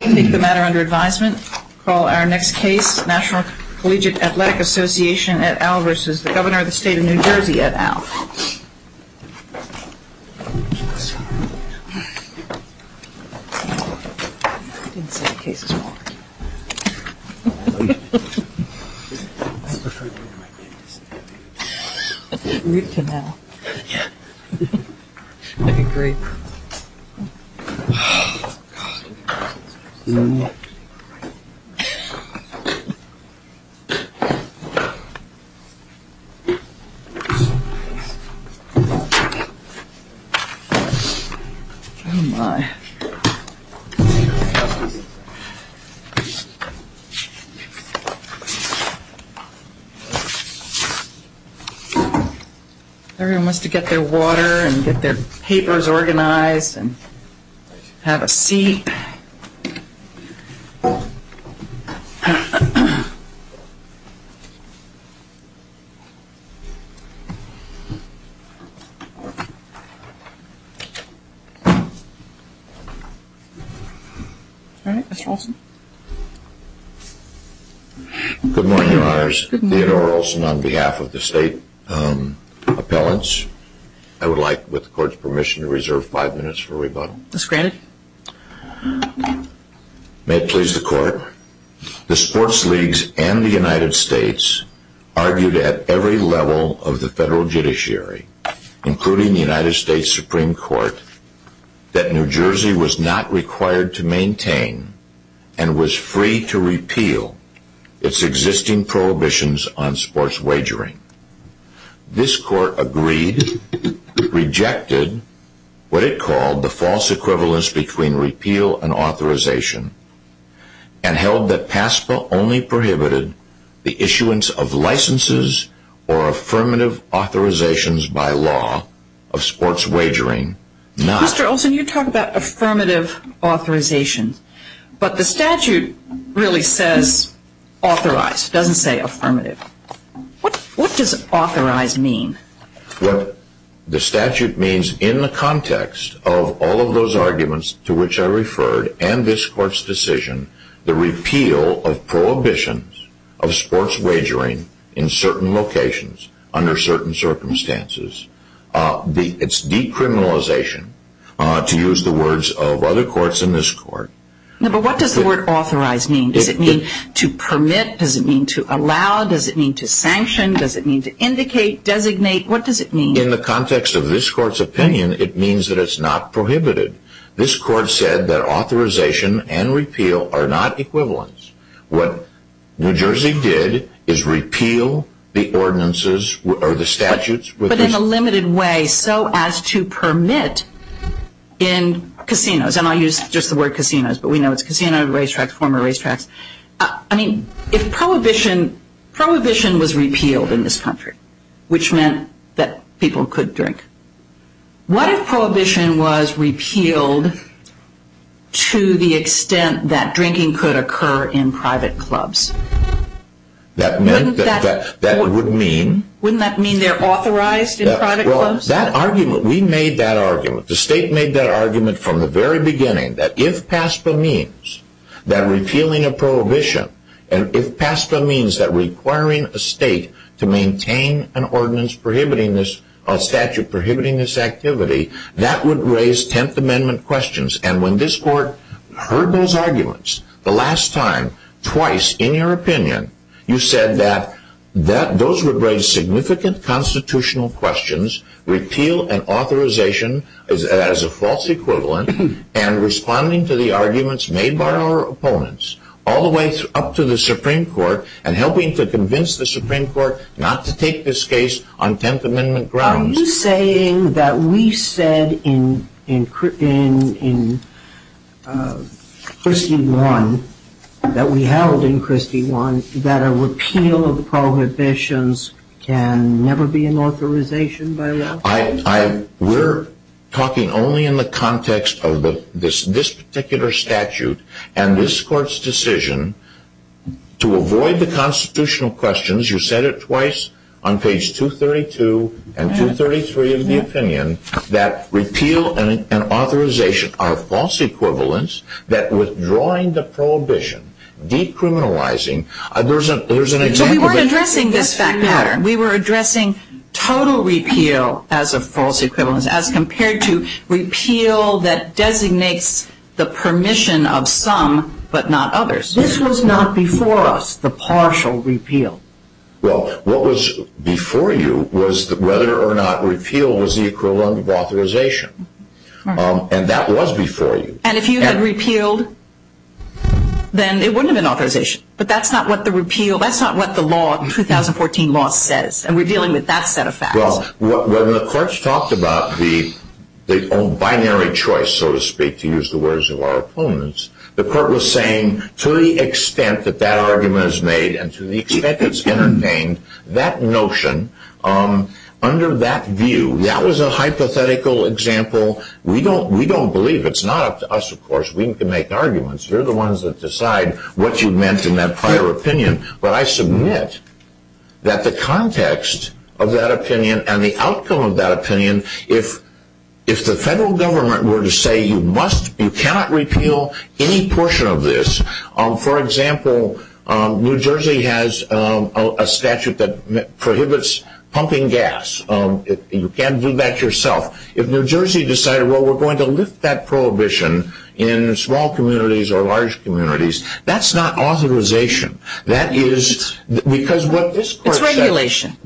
Take the matter under advisement. Call our next case, National Collegiate Athletic Association et al. v. Governor of the State of New Jersey et al. Governor of the State of New Jersey et al. Have a seat. All right, Mr. Olson. Good morning, Your Honors. Theodore Olson on behalf of the State Appellants. I would like, with the Court's permission, to reserve five minutes for rebuttal. As granted. May it please the Court. The sports leagues and the United States argued at every level of the federal judiciary, including the United States Supreme Court, that New Jersey was not required to maintain and was free to repeal its existing prohibitions on sports wagering. This Court agreed, rejected what it called the false equivalence between repeal and authorization, and held that PASPA only prohibited the issuance of licenses or affirmative authorizations by law of sports wagering. Mr. Olson, you talk about affirmative authorizations, but the statute really says authorized. It doesn't say affirmative. What does authorized mean? What the statute means in the context of all of those arguments to which I referred and this Court's decision, the repeal of prohibitions of sports wagering in certain locations under certain circumstances. It's decriminalization, to use the words of other courts in this Court. But what does the word authorized mean? Does it mean to permit? Does it mean to allow? Does it mean to sanction? Does it mean to indicate, designate? What does it mean? In the context of this Court's opinion, it means that it's not prohibited. This Court said that authorization and repeal are not equivalents. What New Jersey did is repeal the ordinances or the statutes. But in a limited way, so as to permit in casinos, and I'll use just the word casinos, but we know it's casino, racetracks, former racetracks. I mean, if prohibition was repealed in this country, which meant that people could drink, what if prohibition was repealed to the extent that drinking could occur in private clubs? Wouldn't that mean they're authorized in private clubs? That argument, we made that argument, the state made that argument from the very beginning, that if PASPA means that repealing a prohibition, and if PASPA means that requiring a state to maintain an ordinance prohibiting this, a statute prohibiting this activity, that would raise Tenth Amendment questions. And when this Court heard those arguments the last time, twice, in your opinion, you said that those would raise significant constitutional questions, repeal an authorization as a false equivalent, and responding to the arguments made by our opponents, all the way up to the Supreme Court, and helping to convince the Supreme Court not to take this case on Tenth Amendment grounds. Are you saying that we said in Christie I, that we held in Christie I, that a repeal of prohibitions can never be an authorization by law? We're talking only in the context of this particular statute, and this Court's decision to avoid the constitutional questions, you said it twice, on page 232 and 233 of the opinion, that repeal and authorization are false equivalents, that withdrawing the prohibition, decriminalizing, there's an exact— We weren't addressing this fact pattern. We were addressing total repeal as a false equivalence, as compared to repeal that designates the permission of some, but not others. This was not before us, the partial repeal. Well, what was before you was whether or not repeal was the equivalent of authorization. And that was before you. And if you had repealed, then it wouldn't have been authorization. But that's not what the repeal, that's not what the law, 2014 law says. And we're dealing with that set of facts. Well, when the courts talked about the binary choice, so to speak, to use the words of our opponents, the court was saying, to the extent that that argument is made, and to the extent it's entertained, that notion, under that view, that was a hypothetical example. We don't believe. It's not up to us, of course. We can make arguments. You're the ones that decide what you meant in that prior opinion. But I submit that the context of that opinion and the outcome of that opinion, if the federal government were to say, you cannot repeal any portion of this, for example, New Jersey has a statute that prohibits pumping gas. You can't do that yourself. If New Jersey decided, well, we're going to lift that prohibition in small communities or large communities, that's not authorization. That is, because what this court said. It's regulation.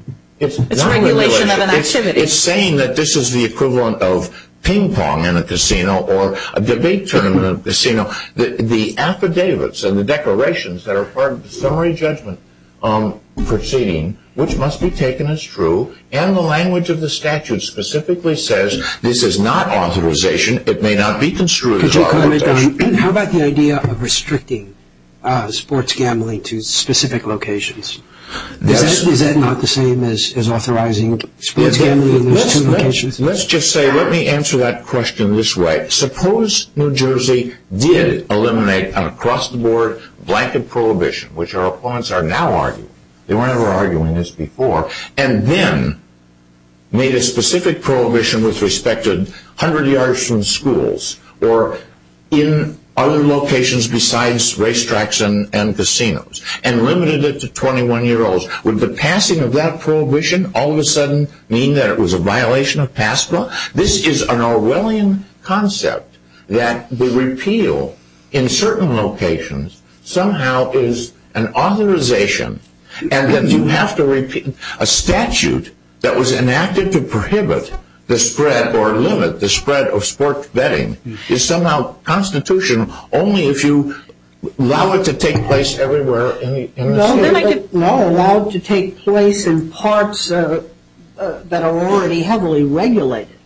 It's not regulation. It's regulation of an activity. It's saying that this is the equivalent of ping pong in a casino or a debate tournament in a casino. The affidavits and the declarations that are part of the summary judgment proceeding, which must be taken as true, and the language of the statute specifically says, this is not authorization. It may not be construed as authorization. How about the idea of restricting sports gambling to specific locations? Is that not the same as authorizing sports gambling in those two locations? Let's just say, let me answer that question this way. Suppose New Jersey did eliminate an across-the-board blanket prohibition, which our opponents are now arguing. They were never arguing this before. And then made a specific prohibition with respect to 100 yards from schools or in other locations besides racetracks and casinos. And limited it to 21-year-olds. Would the passing of that prohibition all of a sudden mean that it was a violation of PASPA? This is an Orwellian concept that the repeal in certain locations somehow is an authorization and that you have to repeal. A statute that was enacted to prohibit the spread or limit the spread of sports betting is somehow constitutional only if you allow it to take place everywhere in the state. Well, then I get allowed to take place in parts that are already heavily regulated.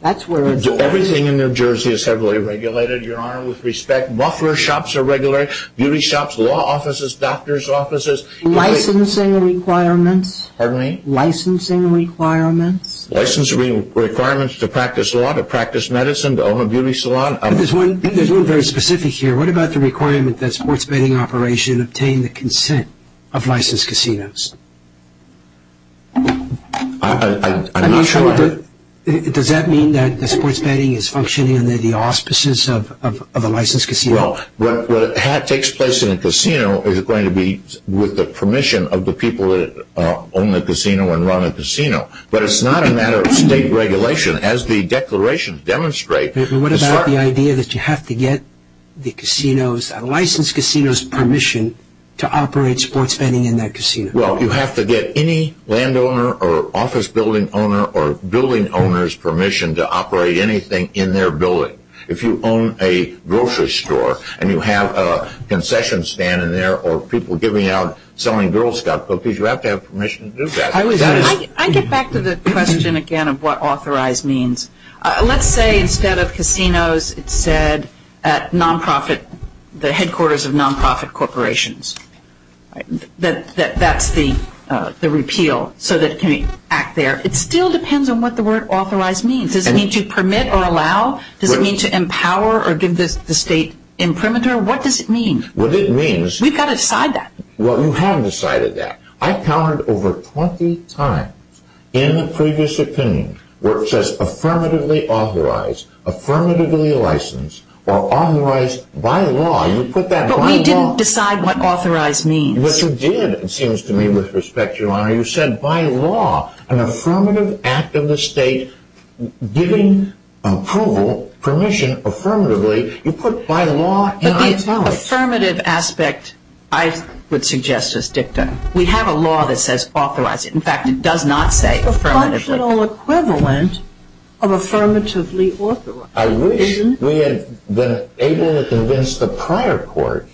That's where it's at. Everything in New Jersey is heavily regulated, Your Honor, with respect. Buffer shops are regulated, beauty shops, law offices, doctors' offices. Licensing requirements. Pardon me? Licensing requirements. Licensing requirements to practice law, to practice medicine, to own a beauty salon. There's one very specific here. What about the requirement that sports betting operations obtain the consent of licensed casinos? I'm not sure. Does that mean that sports betting is functioning under the auspices of a licensed casino? Well, what takes place in a casino is going to be with the permission of the people that own the casino and run the casino. But it's not a matter of state regulation as the declarations demonstrate. What about the idea that you have to get the licensed casino's permission to operate sports betting in that casino? Well, you have to get any landowner or office building owner or building owner's permission to operate anything in their building. If you own a grocery store and you have a concession stand in there or people giving out selling girl's stuff, you have to have permission to do that. I get back to the question again of what authorized means. Let's say instead of casinos, it said non-profit, the headquarters of non-profit corporations. That's the repeal so that it can act there. It still depends on what the word authorized means. Does it mean to permit or allow? Does it mean to empower or give the state imprimatur? What does it mean? What it means... We've got to decide that. Well, you haven't decided that. I've counted over 20 times in the previous opinion where it says affirmatively authorized, affirmatively licensed, or authorized by law. You put that by law. But we didn't decide what authorized means. Yes, you did, it seems to me, with respect, Your Honor. You said by law. An affirmative act of the state giving approval, permission affirmatively, you put by law in italics. The affirmative aspect I would suggest is dictum. We have a law that says authorized. In fact, it does not say affirmatively. It's a functional equivalent of affirmatively authorized. I wish we had been able to convince the prior court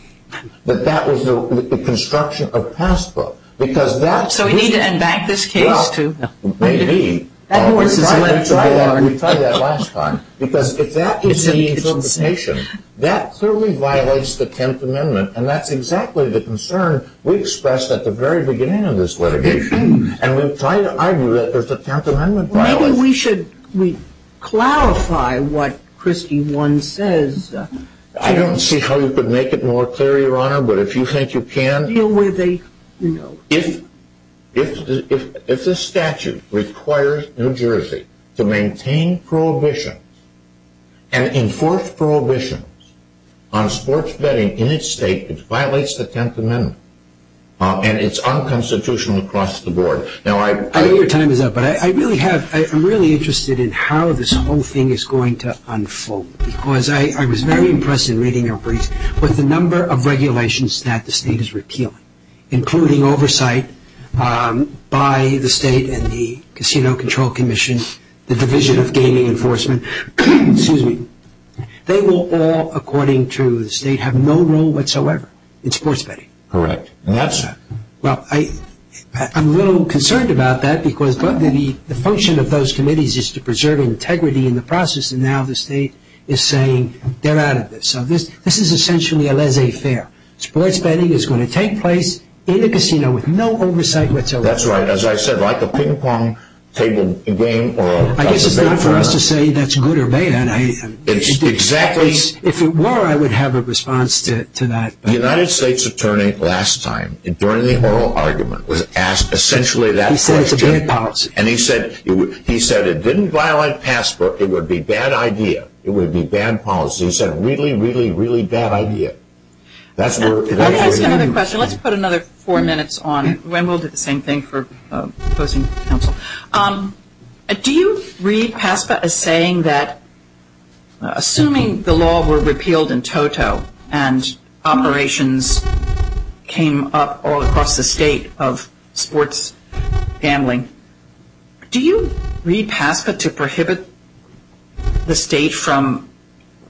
that that was the construction of passbook. So we need to embank this case to... We tried that last time. Because if that is the interpretation, that clearly violates the 10th Amendment. And that's exactly the concern we expressed at the very beginning of this litigation. And we've tried to argue that there's a 10th Amendment violation. Maybe we should clarify what Christie 1 says. I don't see how you could make it more clear, Your Honor, but if you think you can... Deal with a, you know... If the statute requires New Jersey to maintain prohibitions and enforce prohibitions on sports betting in its state, it violates the 10th Amendment. And it's unconstitutional across the board. I know your time is up, but I'm really interested in how this whole thing is going to unfold. Because I was very impressed in reading your brief with the number of regulations that the state is repealing, including oversight by the state and the Casino Control Commission, the Division of Gaming Enforcement. They will all, according to the state, have no role whatsoever in sports betting. Correct. And that's... Well, I'm a little concerned about that because the function of those committees is to preserve integrity in the process. And now the state is saying they're out of this. So this is essentially a laissez-faire. Sports betting is going to take place in a casino with no oversight whatsoever. That's right. As I said, like a ping-pong table game or... I guess it's not for us to say that's good or bad. It's exactly... If it were, I would have a response to that. The United States Attorney last time, during the oral argument, was asked essentially that question. He said it's a bad policy. And he said it didn't violate Passport. It would be a bad idea. It would be a bad policy. He said, really, really, really bad idea. Let's put another four minutes on. And we'll do the same thing for opposing counsel. Do you read PASPA as saying that, assuming the law were repealed in toto and operations came up all across the state of sports gambling, do you read PASPA to prohibit the state from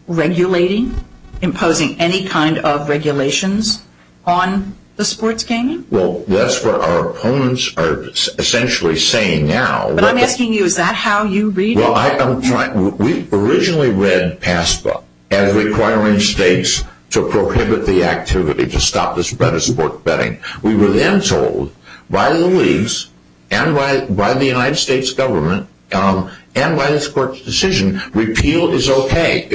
regulating, imposing any kind of regulations on the sports gaming? Well, that's what our opponents are essentially saying now. But I'm asking you, is that how you read it? Well, we originally read PASPA as requiring states to prohibit the activity, to stop the sport betting. We were then told by the leagues and by the United States government and by this court's decision, repeal is okay.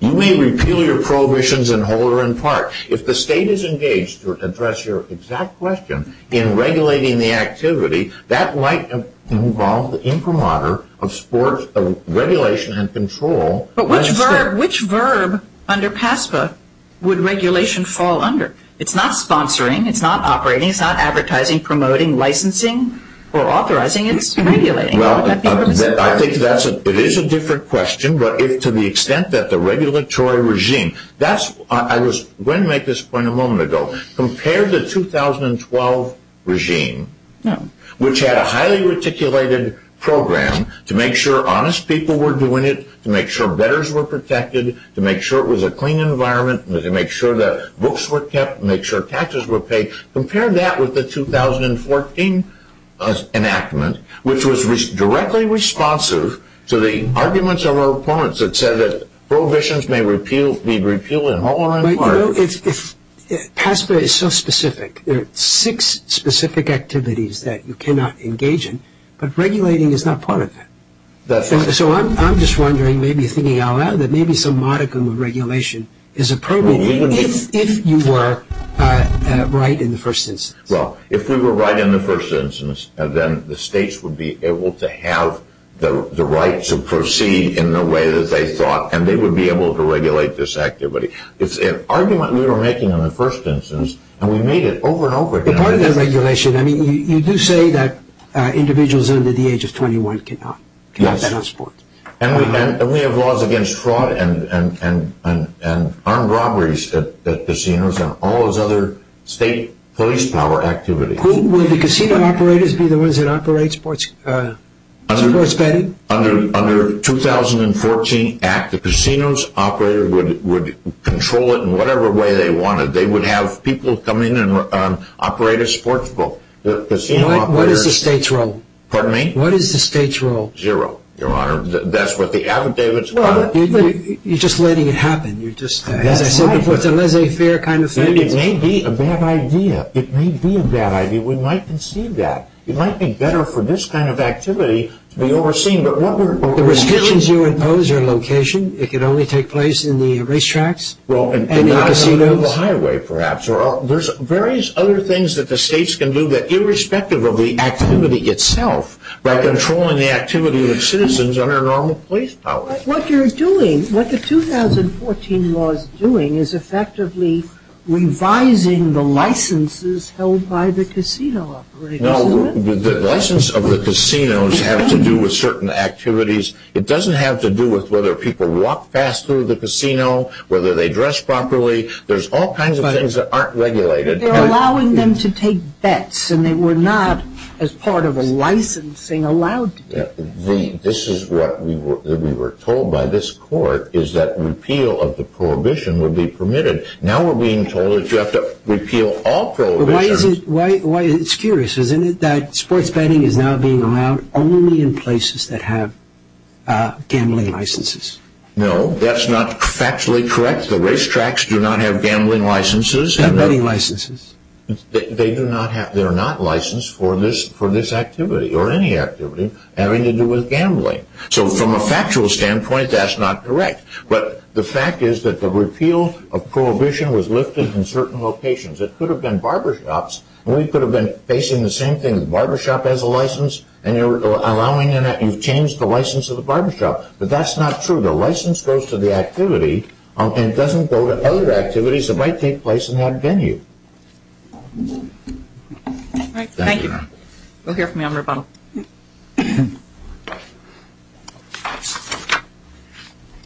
You may repeal your prohibitions in whole or in part. If the state is engaged to address your exact question in regulating the activity, that might involve the imprimatur of regulation and control. But which verb under PASPA would regulation fall under? It's not sponsoring. It's not operating. It's not advertising, promoting, licensing or authorizing. It's regulating. Well, I think it is a different question. But to the extent that the regulatory regime, I was going to make this point a moment ago. Compare the 2012 regime, which had a highly articulated program to make sure honest people were doing it, to make sure bettors were protected, to make sure it was a clean environment, to make sure that books were kept, to make sure taxes were paid. Compare that with the 2014 enactment, which was directly responsive to the arguments of our opponents that said that prohibitions may be repealed in whole or in part. But, you know, PASPA is so specific. There are six specific activities that you cannot engage in. But regulating is not part of that. That's right. So I'm just wondering, maybe thinking out loud, that maybe some modicum of regulation is appropriate, if you were right in the first instance. Well, if we were right in the first instance, then the states would be able to have the right to proceed in the way that they thought, and they would be able to regulate this activity. It's an argument we were making in the first instance, and we made it over and over again. Part of that regulation, I mean, you do say that individuals under the age of 21 cannot bet on sports. And we have laws against fraud and armed robberies at casinos and all those other state police power activities. Will the casino operators be the ones that operate sports betting? Under the 2014 Act, the casino's operator would control it in whatever way they wanted. They would have people come in and operate a sports book. What is the state's role? Pardon me? What is the state's role? Zero, Your Honor. That's what the affidavits are. You're just letting it happen. As I said before, it's a laissez-faire kind of thing. It may be a bad idea. It may be a bad idea. We might concede that. It might be better for this kind of activity to be overseen. The restrictions you impose are location. It can only take place in the racetracks and the casinos. Or on the highway, perhaps. There's various other things that the states can do that, irrespective of the activity itself, by controlling the activity of citizens under normal police power. What you're doing, what the 2014 law is doing, is effectively revising the licenses held by the casino operators. No, the license of the casinos have to do with certain activities. It doesn't have to do with whether people walk fast through the casino, whether they dress properly. There's all kinds of things that aren't regulated. But they're allowing them to take bets, and they were not, as part of a licensing, allowed to do that. This is what we were told by this court, is that repeal of the prohibition would be permitted. Now we're being told that you have to repeal all prohibitions. It's curious, isn't it, that sports betting is now being allowed only in places that have gambling licenses? No, that's not factually correct. The racetracks do not have gambling licenses. And betting licenses. They do not have, they're not licensed for this activity, or any activity having to do with gambling. So from a factual standpoint, that's not correct. But the fact is that the repeal of prohibition was lifted in certain locations. It could have been barbershops, and we could have been facing the same thing. The barbershop has a license, and you're allowing, you've changed the license of the barbershop. But that's not true. The license goes to the activity, and it doesn't go to other activities that might take place in that venue. All right. Thank you. We'll hear from you on rebuttal.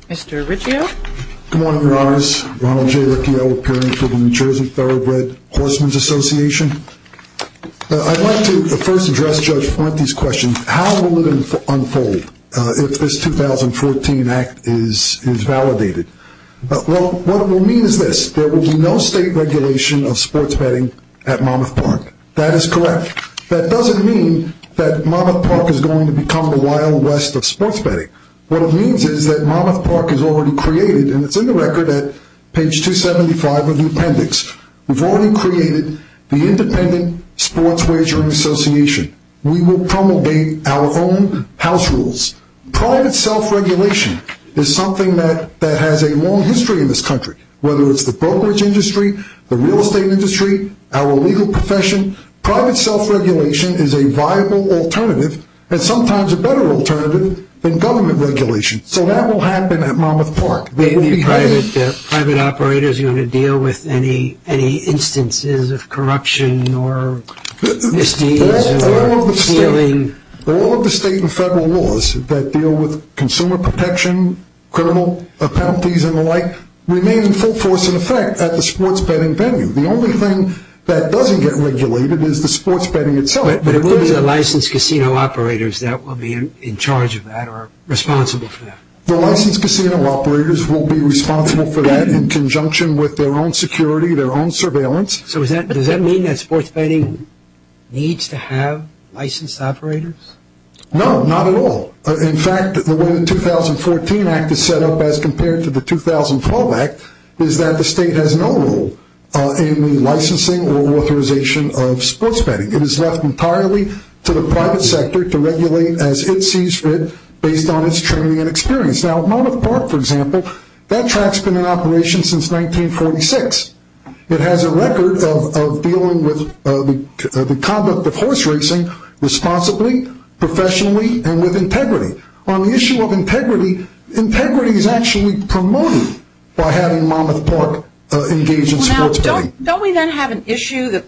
Mr. Riccio. Good morning, Your Honors. Ronald J. Riccio, appearing for the New Jersey Thoroughbred Horsemen's Association. I'd like to first address Judge Florenti's question. How will it unfold if this 2014 act is validated? Well, what it will mean is this. There will be no state regulation of sports betting at Monmouth Park. That is correct. That doesn't mean that Monmouth Park is going to become the Wild West of sports betting. What it means is that Monmouth Park is already created, and it's in the record at page 275 of the appendix. We've already created the Independent Sports Wagering Association. We will promulgate our own house rules. Private self-regulation is something that has a long history in this country, whether it's the brokerage industry, the real estate industry, our legal profession. Private self-regulation is a viable alternative and sometimes a better alternative than government regulation. So that will happen at Monmouth Park. Are the private operators going to deal with any instances of corruption or misdeeds or stealing? All of the state and federal laws that deal with consumer protection, criminal penalties and the like, remain in full force in effect at the sports betting venue. The only thing that doesn't get regulated is the sports betting itself. But it will be the licensed casino operators that will be in charge of that or responsible for that. The licensed casino operators will be responsible for that in conjunction with their own security, their own surveillance. So does that mean that sports betting needs to have licensed operators? No, not at all. In fact, the way the 2014 Act is set up as compared to the 2012 Act is that the state has no role in the licensing or authorization of sports betting. It is left entirely to the private sector to regulate as it sees fit based on its training and experience. Now, Monmouth Park, for example, that track has been in operation since 1946. It has a record of dealing with the conduct of horse racing responsibly, professionally and with integrity. On the issue of integrity, integrity is actually promoted by having Monmouth Park engage in sports betting. Don't we then have an issue?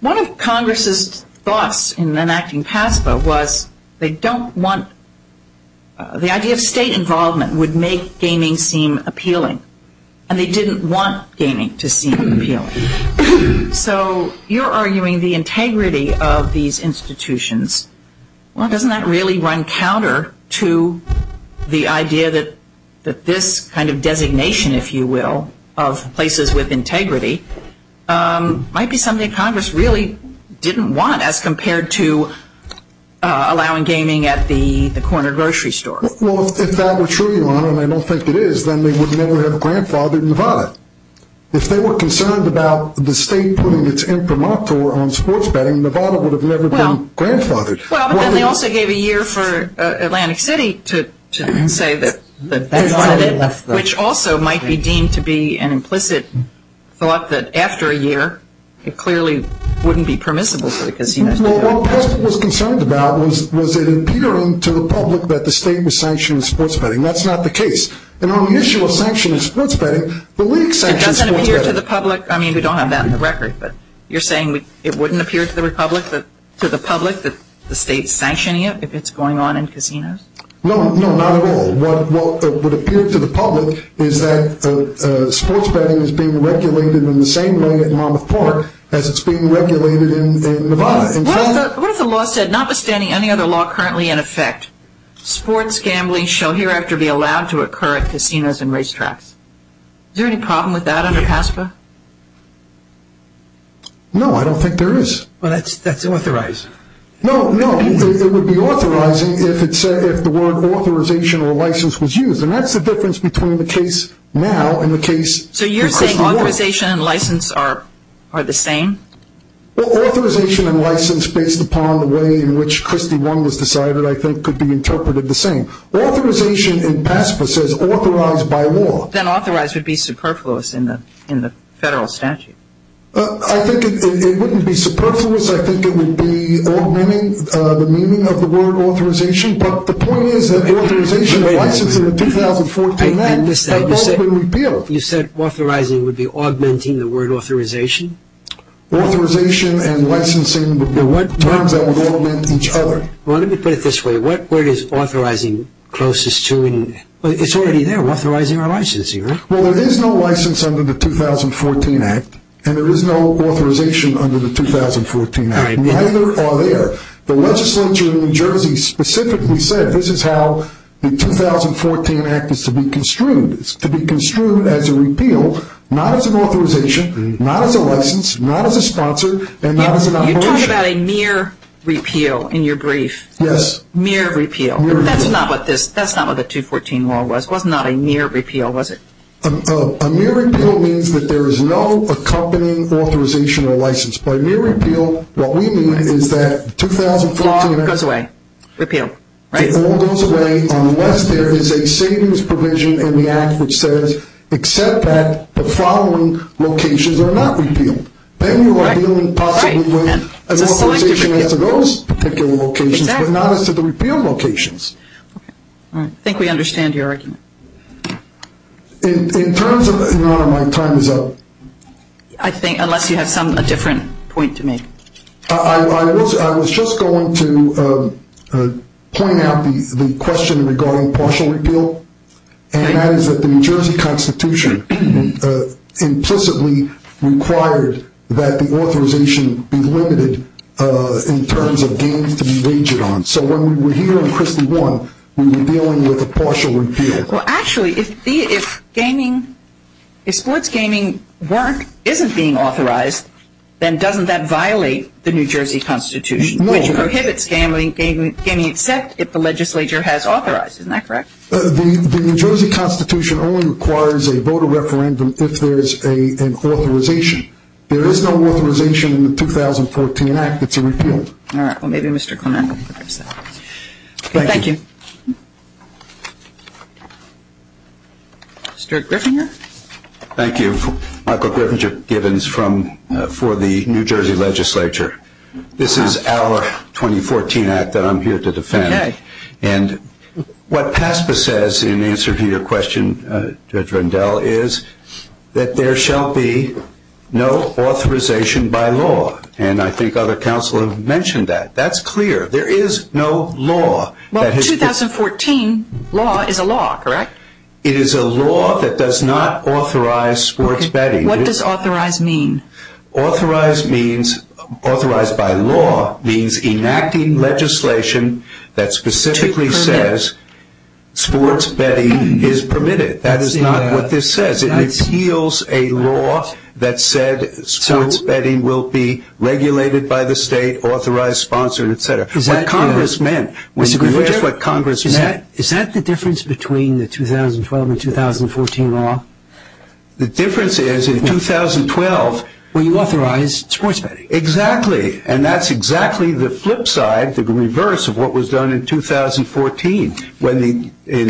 One of Congress's thoughts in enacting PASPA was they don't want the idea of state involvement would make gaming seem appealing. And they didn't want gaming to seem appealing. So you're arguing the integrity of these institutions. Well, doesn't that really run counter to the idea that this kind of designation, if you will, of places with integrity might be something Congress really didn't want as compared to allowing gaming at the corner grocery store? Well, if that were true, Your Honor, and I don't think it is, then they would never have grandfathered Nevada. If they were concerned about the state putting its imprimatur on sports betting, Nevada would have never been grandfathered. Well, but then they also gave a year for Atlantic City to say that that's what it is, which also might be deemed to be an implicit thought that after a year, it clearly wouldn't be permissible for the casinos to do it. Well, what PASPA was concerned about was it appearing to the public that the state was sanctioning sports betting. That's not the case. And on the issue of sanctioning sports betting, the league sanctioned sports betting. It doesn't appear to the public. I mean, we don't have that on the record. But you're saying it wouldn't appear to the public that the state's sanctioning it if it's going on in casinos? No, no, not at all. What would appear to the public is that sports betting is being regulated in the same way at Monmouth Park as it's being regulated in Nevada. What if the law said, notwithstanding any other law currently in effect, sports gambling shall hereafter be allowed to occur at casinos and racetracks? Is there any problem with that under PASPA? No, I don't think there is. Well, that's unauthorized. No, no, it would be authorizing if the word authorization or license was used, and that's the difference between the case now and the case in Christian law. So you're saying authorization and license are the same? Well, authorization and license, based upon the way in which Christie 1 was decided, I think could be interpreted the same. Authorization in PASPA says authorized by law. Then authorized would be superfluous in the federal statute. I think it wouldn't be superfluous. I think it would be augmenting the meaning of the word authorization. But the point is that authorization and license in the 2014 act have both been repealed. You said authorizing would be augmenting the word authorization? Authorization and licensing would be terms that would augment each other. Well, let me put it this way. Where is authorizing closest to? It's already there. We're authorizing our licensing, right? Well, there is no license under the 2014 act, and there is no authorization under the 2014 act. Neither are there. The legislature in New Jersey specifically said this is how the 2014 act is to be construed. It's to be construed as a repeal, not as an authorization, not as a license, not as a sponsor, and not as an operation. You talk about a mere repeal in your brief. Yes. Mere repeal. Mere repeal. That's not what the 2014 law was. It was not a mere repeal, was it? A mere repeal means that there is no accompanying authorization or license. By mere repeal, what we mean is that 2014 act. The law goes away. Repeal, right? The law goes away unless there is a savings provision in the act which says, except that the following locations are not repealed. Then you are dealing possibly with authorization as to those particular locations, but not as to the repeal locations. Okay. All right. I think we understand your argument. In terms of my time is up. I think, unless you have a different point to make. I was just going to point out the question regarding partial repeal, and that is that the New Jersey Constitution implicitly required that the authorization be limited in terms of gains to be waged on. So when we were here in Christie 1, we were dealing with a partial repeal. Well, actually, if sports gaming work isn't being authorized, then doesn't that violate the New Jersey Constitution, which prohibits gaming except if the legislature has authorized. Isn't that correct? The New Jersey Constitution only requires a voter referendum if there is an authorization. There is no authorization in the 2014 act that's a repeal. All right. Well, maybe Mr. Clement can address that. Thank you. Thank you. Mr. Griffinger. Thank you. Michael Griffinger, Givens, for the New Jersey legislature. This is our 2014 act that I'm here to defend. And what PASPA says in answer to your question, Judge Rendell, is that there shall be no authorization by law. And I think other counsel have mentioned that. That's clear. There is no law. Well, 2014 law is a law, correct? It is a law that does not authorize sports betting. What does authorized mean? Authorized means, authorized by law, means enacting legislation that specifically says sports betting is permitted. That is not what this says. It repeals a law that said sports betting will be regulated by the state, authorized, sponsored, et cetera. That's what Congress meant. Mr. Griffinger, is that the difference between the 2012 and 2014 law? The difference is in 2012. Well, you authorized sports betting. Exactly. And that's exactly the flip side, the reverse of what was done in 2014. In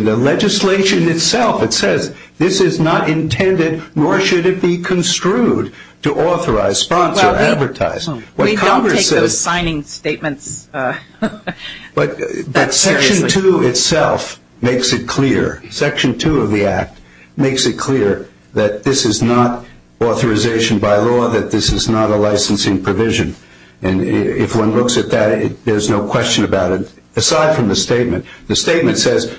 the legislation itself, it says this is not intended nor should it be construed to authorize, sponsor, advertise. We don't take those signing statements that seriously. But Section 2 itself makes it clear, Section 2 of the act makes it clear that this is not authorization by law, that this is not a licensing provision. And if one looks at that, there's no question about it. But aside from the statement, the statement says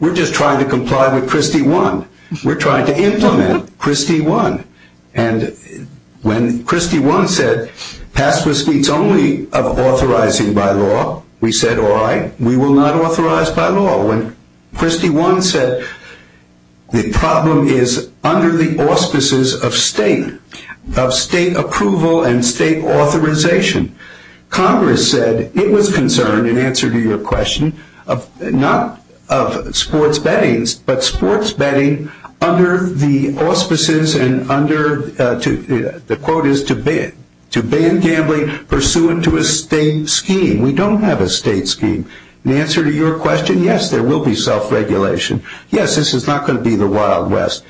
we're just trying to comply with Christie 1. We're trying to implement Christie 1. And when Christie 1 said password suites only of authorizing by law, we said, all right, we will not authorize by law. When Christie 1 said the problem is under the auspices of state, of state approval and state authorization, Congress said it was concerned, in answer to your question, not of sports betting, but sports betting under the auspices and under, the quote is, to ban gambling pursuant to a state scheme. We don't have a state scheme. In answer to your question, yes, there will be self-regulation. Yes, this is not going to be the Wild West.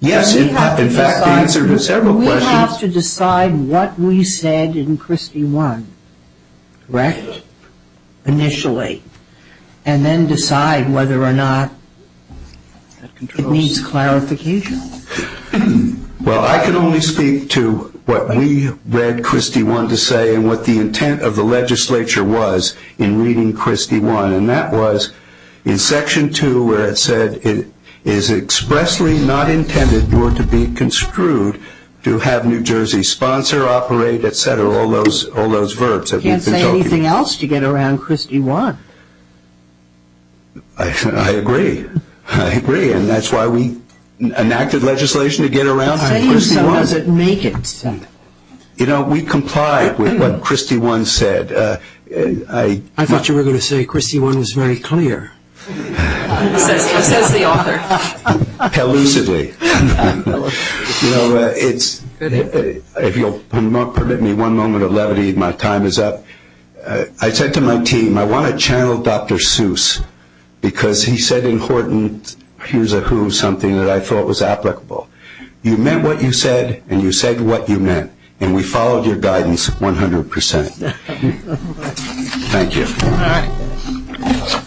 Yes, in fact, the answer to several questions. We have to decide what we said in Christie 1, correct, initially, and then decide whether or not it needs clarification. Well, I can only speak to what we read Christie 1 to say and what the intent of the legislature was in reading Christie 1. And that was in Section 2 where it said, it is expressly not intended nor to be construed to have New Jersey sponsor, operate, et cetera, all those verbs. You can't say anything else to get around Christie 1. I agree. I agree, and that's why we enacted legislation to get around Christie 1. Saying so doesn't make it. You know, we complied with what Christie 1 said. I thought you were going to say Christie 1 was very clear. Says the author. Elusively. If you'll permit me one moment of levity, my time is up. I said to my team, I want to channel Dr. Seuss, because he said in Horton, here's a who, something that I thought was applicable. You meant what you said, and you said what you meant, and we followed your guidance 100%. Thank you. All right.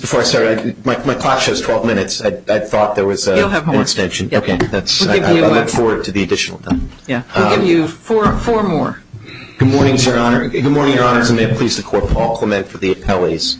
Before I start, my clock shows 12 minutes. I thought there was an extension. You'll have more. Okay. I look forward to the additional time. Yeah. We'll give you four more. Good morning, Your Honor. Good morning, Your Honors, and may it please the Court, Paul Clement for the appellees.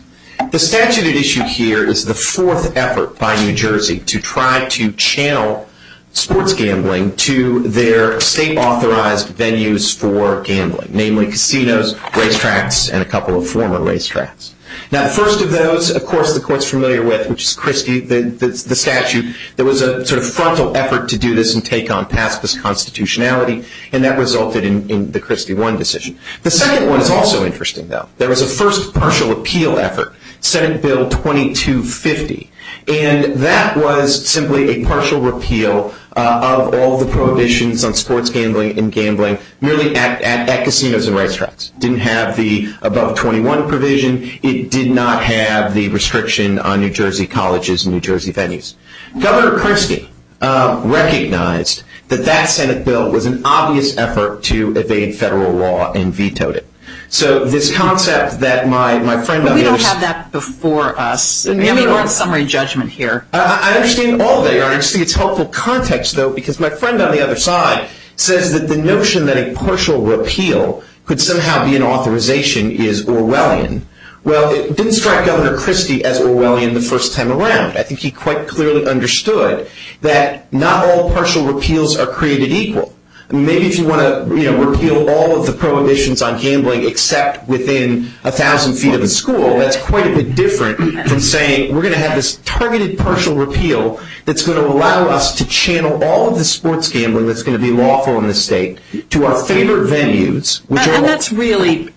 The statute at issue here is the fourth effort by New Jersey to try to channel sports gambling to their state-authorized venues for gambling, namely casinos, racetracks, and a couple of former racetracks. Now, the first of those, of course, the Court's familiar with, which is Christie, the statute. There was a sort of frontal effort to do this and take on past this constitutionality, and that resulted in the Christie 1 decision. The second one is also interesting, though. There was a first partial appeal effort, Senate Bill 2250, and that was simply a partial repeal of all the prohibitions on sports gambling and gambling merely at casinos and racetracks. It didn't have the above 21 provision. It did not have the restriction on New Jersey colleges and New Jersey venues. Governor Christie recognized that that Senate bill was an obvious effort to evade federal law and vetoed it. So this concept that my friend of his – But we don't have that before us. Let me run a summary judgment here. I understand all that, Your Honor. I just think it's helpful context, though, because my friend on the other side says that the notion that a partial repeal could somehow be an authorization is Orwellian. Well, it didn't strike Governor Christie as Orwellian the first time around. I think he quite clearly understood that not all partial repeals are created equal. Maybe if you want to repeal all of the prohibitions on gambling except within 1,000 feet of a school, that's quite a bit different from saying we're going to have this targeted partial repeal that's going to allow us to channel all of the sports gambling that's going to be lawful in this state to our favorite venues. And that's really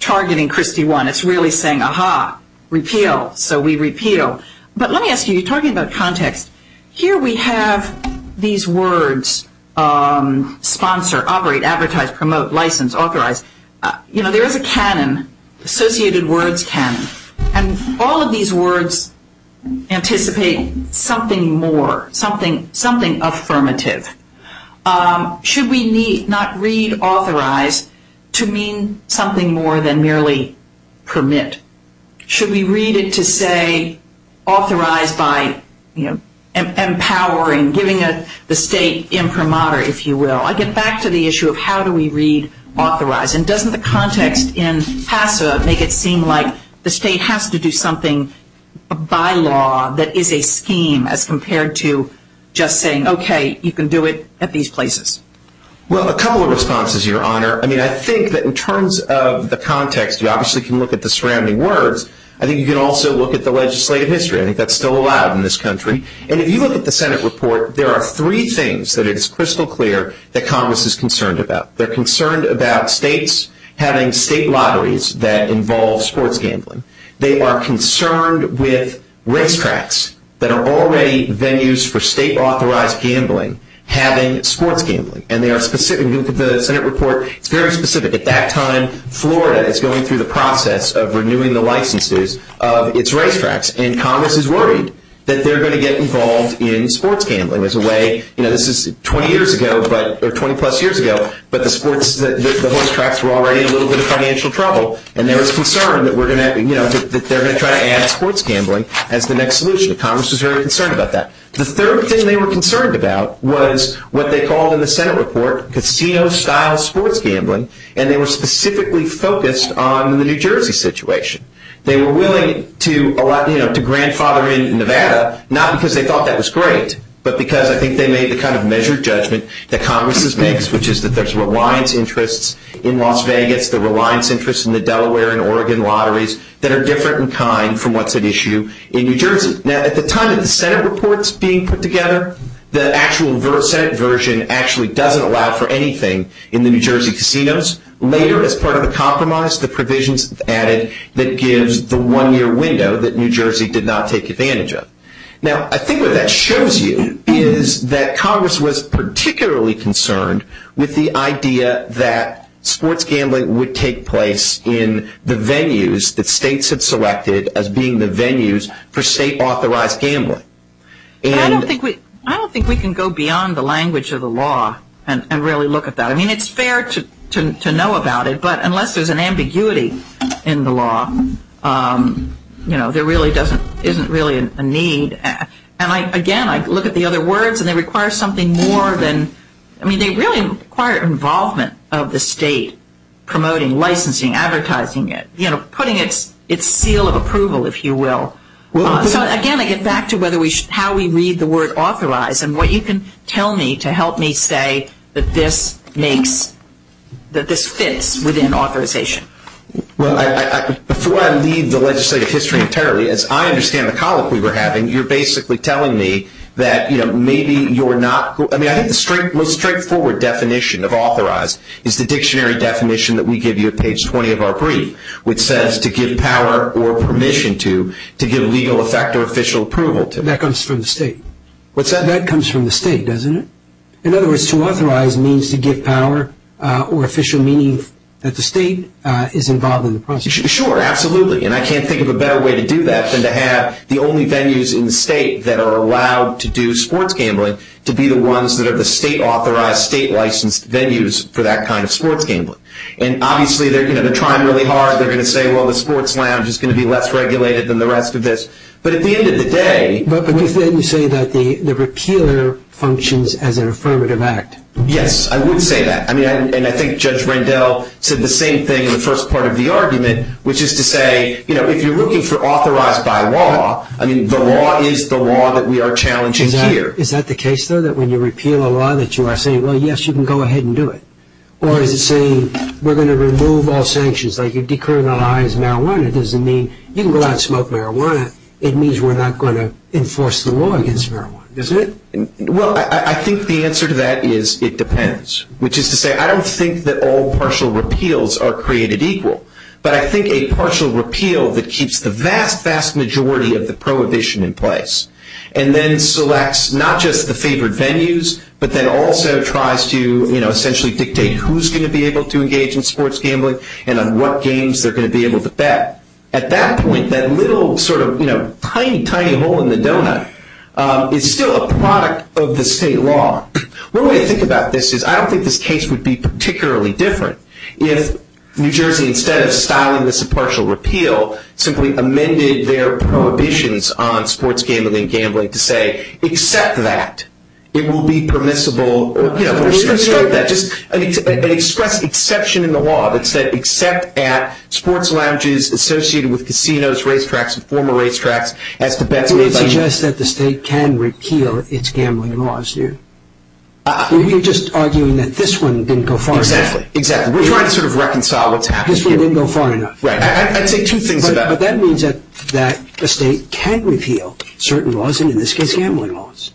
targeting Christie 1. It's really saying, aha, repeal, so we repeal. But let me ask you, you're talking about context. Here we have these words sponsor, operate, advertise, promote, license, authorize. There is a canon, associated words canon, and all of these words anticipate something more, something affirmative. Should we not read authorize to mean something more than merely permit? Should we read it to say authorize by empowering, giving the state imprimatur, if you will? I get back to the issue of how do we read authorize. And doesn't the context in PASA make it seem like the state has to do something by law that is a scheme as compared to just saying, okay, you can do it at these places? Well, a couple of responses, Your Honor. I mean, I think that in terms of the context, you obviously can look at the surrounding words. I think you can also look at the legislative history. I think that's still allowed in this country. And if you look at the Senate report, there are three things that it is crystal clear that Congress is concerned about. They're concerned about states having state lotteries that involve sports gambling. They are concerned with racetracks that are already venues for state-authorized gambling having sports gambling. And they are specific. If you look at the Senate report, it's very specific. At that time, Florida is going through the process of renewing the licenses of its racetracks. And Congress is worried that they're going to get involved in sports gambling as a way. You know, this is 20 years ago, or 20-plus years ago, but the racetracks were already in a little bit of financial trouble. And there was concern that they're going to try to add sports gambling as the next solution. Congress was very concerned about that. The third thing they were concerned about was what they called in the Senate report casino-style sports gambling. And they were specifically focused on the New Jersey situation. They were willing to grandfather in Nevada, not because they thought that was great, but because I think they made the kind of measured judgment that Congress has made, which is that there's reliance interests in Las Vegas, the reliance interests in the Delaware and Oregon lotteries, that are different in kind from what's at issue in New Jersey. Now, at the time that the Senate report is being put together, the actual Senate version actually doesn't allow for anything in the New Jersey casinos. Later, as part of a compromise, the provisions added that gives the one-year window that New Jersey did not take advantage of. Now, I think what that shows you is that Congress was particularly concerned with the idea that sports gambling would take place in the venues that states had selected as being the venues for state-authorized gambling. I don't think we can go beyond the language of the law and really look at that. I mean, it's fair to know about it, but unless there's an ambiguity in the law, there really isn't a need. And, again, I look at the other words, and they require something more than – I mean, they really require involvement of the state promoting, licensing, advertising it, putting its seal of approval, if you will. So, again, I get back to how we read the word authorized and what you can tell me to help me say that this makes – that this fits within authorization. Well, before I leave the legislative history entirely, as I understand the colloquy we're having, you're basically telling me that, you know, maybe you're not – I mean, I think the most straightforward definition of authorized is the dictionary definition that we give you at page 20 of our brief, which says to give power or permission to, to give legal effect or official approval to. That comes from the state. What's that? That comes from the state, doesn't it? In other words, to authorize means to give power or official meaning that the state is involved in the process. Sure, absolutely. And I can't think of a better way to do that than to have the only venues in the state that are allowed to do sports gambling to be the ones that are the state-authorized, state-licensed venues for that kind of sports gambling. And, obviously, they're going to try really hard. They're going to say, well, the sports lounge is going to be less regulated than the rest of this. But at the end of the day – But you say that the repealer functions as an affirmative act. Yes, I would say that. I mean, and I think Judge Rendell said the same thing in the first part of the argument, which is to say, you know, if you're looking for authorized by law, I mean, the law is the law that we are challenging here. Is that the case, though, that when you repeal a law that you are saying, well, yes, you can go ahead and do it? Or is it saying we're going to remove all sanctions? Like you decriminalize marijuana doesn't mean you can go out and smoke marijuana. It means we're not going to enforce the law against marijuana. Isn't it? Well, I think the answer to that is it depends, which is to say I don't think that all partial repeals are created equal. But I think a partial repeal that keeps the vast, vast majority of the prohibition in place and then selects not just the favored venues but then also tries to, you know, essentially dictate who's going to be able to engage in sports gambling and on what games they're going to be able to bet. At that point, that little sort of, you know, tiny, tiny hole in the donut is still a product of the state law. One way to think about this is I don't think this case would be particularly different if New Jersey, instead of styling this a partial repeal, simply amended their prohibitions on sports gambling and gambling to say, except that it will be permissible, you know, to start that, just express exception in the law that said except at sports lounges associated with casinos, racetracks and former racetracks as to bets made by- You would suggest that the state can repeal its gambling laws, do you? You're just arguing that this one didn't go far enough. Exactly. Exactly. We're trying to sort of reconcile what's happened here. This one didn't go far enough. Right. I'd say two things about it. Yeah, but that means that the state can't repeal certain laws, and in this case gambling laws.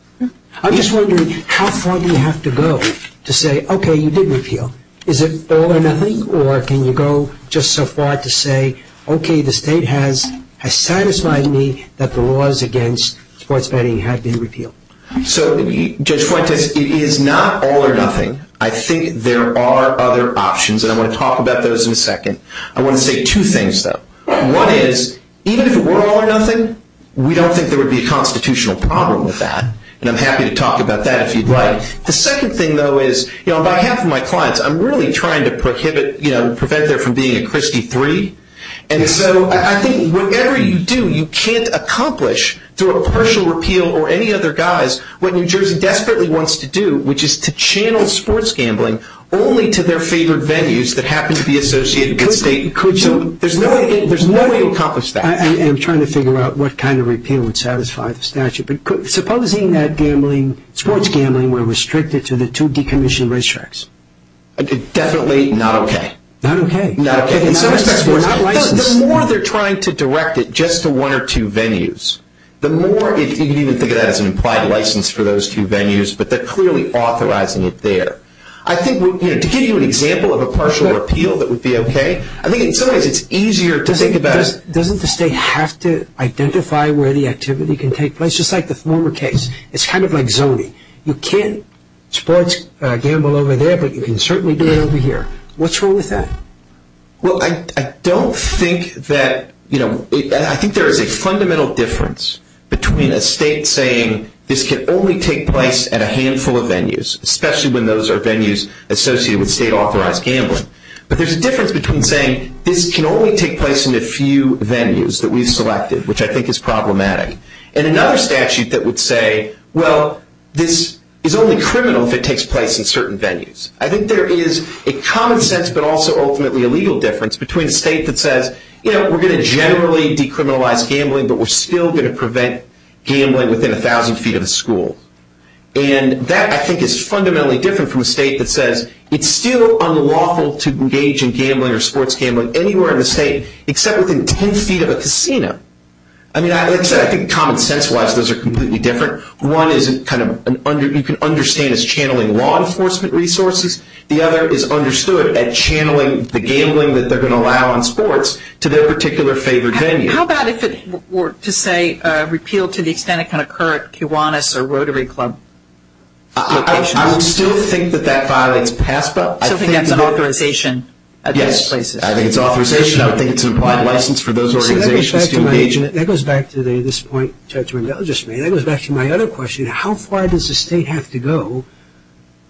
I'm just wondering how far do you have to go to say, okay, you did repeal. Is it all or nothing or can you go just so far to say, okay, the state has satisfied me that the laws against sports betting have been repealed? So, Judge Fuentes, it is not all or nothing. I think there are other options and I want to talk about those in a second. I want to say two things, though. One is, even if it were all or nothing, we don't think there would be a constitutional problem with that. And I'm happy to talk about that if you'd like. The second thing, though, is, you know, on behalf of my clients, I'm really trying to prohibit, you know, prevent there from being a Christie 3. And so I think whatever you do, you can't accomplish through a partial repeal or any other guise what New Jersey desperately wants to do, which is to channel sports gambling only to their favorite venues that happen to be associated with the state. So there's no way to accomplish that. And I'm trying to figure out what kind of repeal would satisfy the statute. But supposing that sports gambling were restricted to the two decommissioned racetracks? Definitely not okay. Not okay. Not okay. In some respects they're not licensed. The more they're trying to direct it just to one or two venues, the more, you can even think of that as an implied license for those two venues, but they're clearly authorizing it there. I think, you know, to give you an example of a partial repeal that would be okay, I think in some ways it's easier to think about. Doesn't the state have to identify where the activity can take place? Just like the former case, it's kind of like zoning. You can't sports gamble over there, but you can certainly do it over here. What's wrong with that? Well, I don't think that, you know, I think there is a fundamental difference between a state saying this can only take place at a handful of venues, especially when those are venues associated with state-authorized gambling. But there's a difference between saying this can only take place in a few venues that we've selected, which I think is problematic, and another statute that would say, well, this is only criminal if it takes place in certain venues. I think there is a common sense but also ultimately a legal difference between a state that says, you know, we're going to generally decriminalize gambling, but we're still going to prevent gambling within 1,000 feet of a school. And that, I think, is fundamentally different from a state that says it's still unlawful to engage in gambling or sports gambling anywhere in the state except within 10 feet of a casino. I mean, like I said, I think common sense-wise those are completely different. One is kind of you can understand is channeling law enforcement resources. The other is understood at channeling the gambling that they're going to allow in sports to their particular favorite venue. How about if it were to say repeal to the extent it can occur at Kiwanis or Rotary Club? I would still think that that violates PASPA. I think that's an authorization at those places. Yes, I think it's authorization. I think it's an applied license for those organizations to engage in it. That goes back to this point Judge Mendel just made. That goes back to my other question. How far does the state have to go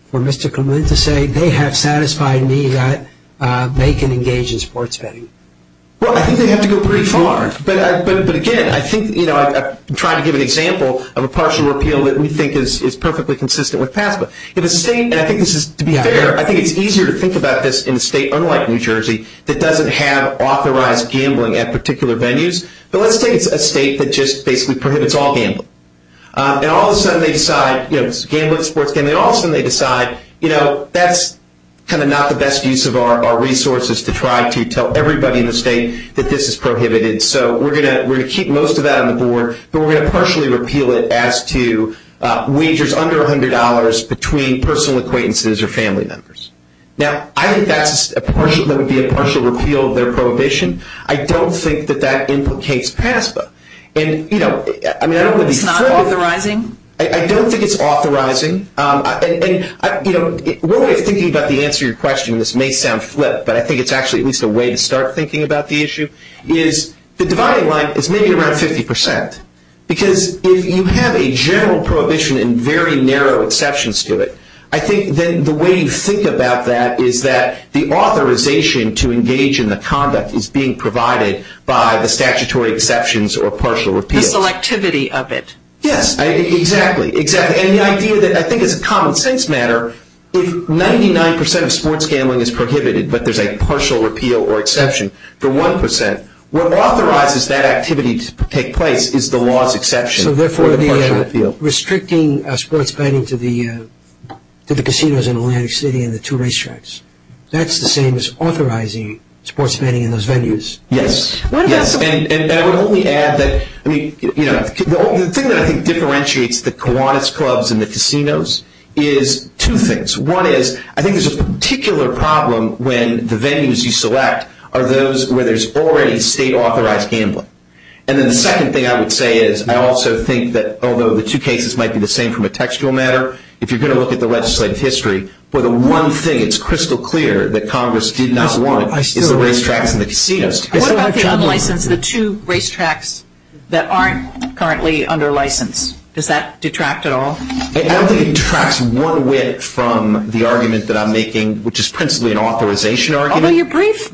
for Mr. Clement to say they have satisfied me that they can engage in sports betting? Well, I think they have to go pretty far. But, again, I think, you know, I'm trying to give an example of a partial repeal that we think is perfectly consistent with PASPA. In a state, and I think this is, to be fair, I think it's easier to think about this in a state unlike New Jersey that doesn't have authorized gambling at particular venues. But let's take a state that just basically prohibits all gambling. And all of a sudden they decide, you know, it's gambling, sports gambling, and all of a sudden they decide, you know, that's kind of not the best use of our resources to try to tell everybody in the state that this is prohibited. So we're going to keep most of that on the board, but we're going to partially repeal it as to wagers under $100 between personal acquaintances or family members. Now, I think that would be a partial repeal of their prohibition. I don't think that that implicates PASPA. And, you know, I mean, I don't think it's flippant. It's not authorizing? I don't think it's authorizing. And, you know, one way of thinking about the answer to your question, and this may sound flip, but I think it's actually at least a way to start thinking about the issue, is the dividing line is maybe around 50%. Because if you have a general prohibition and very narrow exceptions to it, I think then the way you think about that is that the authorization to engage in the conduct is being provided by the statutory exceptions or partial repeals. The selectivity of it. Yes, exactly. And the idea that I think as a common sense matter, if 99% of sports gambling is prohibited, but there's a partial repeal or exception for 1%, what authorizes that activity to take place is the law's exception for the partial repeal. So, therefore, restricting sports betting to the casinos in Atlantic City and the two racetracks, that's the same as authorizing sports betting in those venues. Yes. And I would only add that, I mean, you know, the thing that I think differentiates the Kiwanis Clubs and the casinos is two things. One is I think there's a particular problem when the venues you select are those where there's already state-authorized gambling. And then the second thing I would say is I also think that although the two cases might be the same from a textual matter, if you're going to look at the legislative history, well, the one thing that's crystal clear that Congress did not want is the racetracks and the casinos. What about the unlicensed, the two racetracks that aren't currently under license? Does that detract at all? I don't think it detracts one way from the argument that I'm making, which is principally an authorization argument. Although your briefs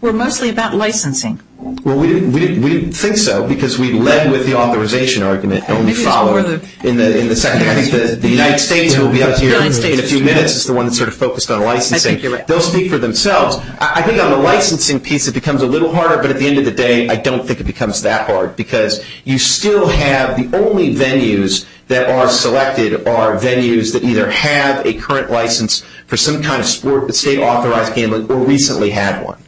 were mostly about licensing. Well, we didn't think so because we led with the authorization argument and only followed in the second. I think the United States who will be up here in a few minutes is the one that's sort of focused on licensing. They'll speak for themselves. I think on the licensing piece it becomes a little harder, but at the end of the day, I don't think it becomes that hard because you still have the only venues that are selected are venues that either have a current license for some kind of state-authorized gambling or recently had one.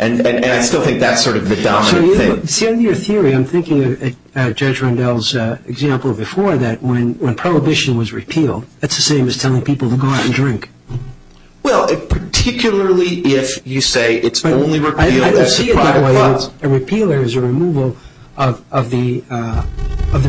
And I still think that's sort of the dominant thing. See, under your theory, I'm thinking of Judge Rendell's example before that when prohibition was repealed, that's the same as telling people to go out and drink. Well, particularly if you say it's only repealed as a private club. I don't see it that way. A repealer is a removal of the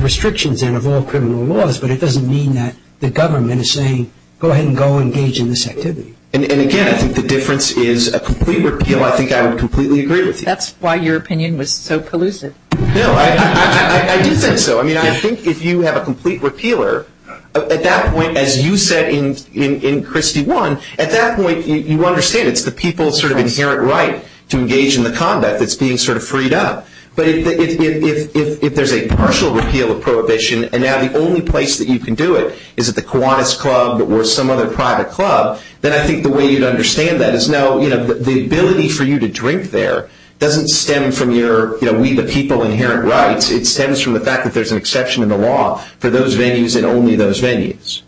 restrictions and of all criminal laws, but it doesn't mean that the government is saying go ahead and go engage in this activity. And, again, I think the difference is a complete repeal, I think I would completely agree with you. That's why your opinion was so collusive. No, I do think so. I mean, I think if you have a complete repealer, at that point, as you said in Christie one, at that point you understand it's the people's sort of inherent right to engage in the conduct that's being sort of freed up. But if there's a partial repeal of prohibition and now the only place that you can do it is at the Kiwanis Club or some other private club, then I think the way you'd understand that is now the ability for you to drink there doesn't stem from your we the people inherent rights. It stems from the fact that there's an exception in the law for those venues and only those venues.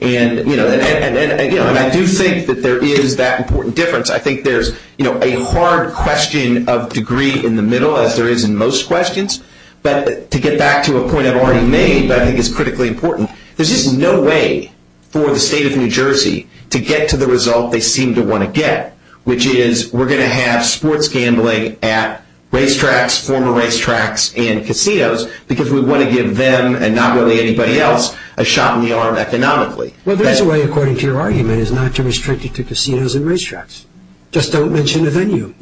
And I do think that there is that important difference. I think there's a hard question of degree in the middle, as there is in most questions. But to get back to a point I've already made that I think is critically important, there's just no way for the state of New Jersey to get to the result they seem to want to get, which is we're going to have sports gambling at racetracks, former racetracks, and casinos because we want to give them and not really anybody else a shot in the arm economically. Well, there's a way, according to your argument, is not to restrict it to casinos and racetracks. Just don't mention the venue.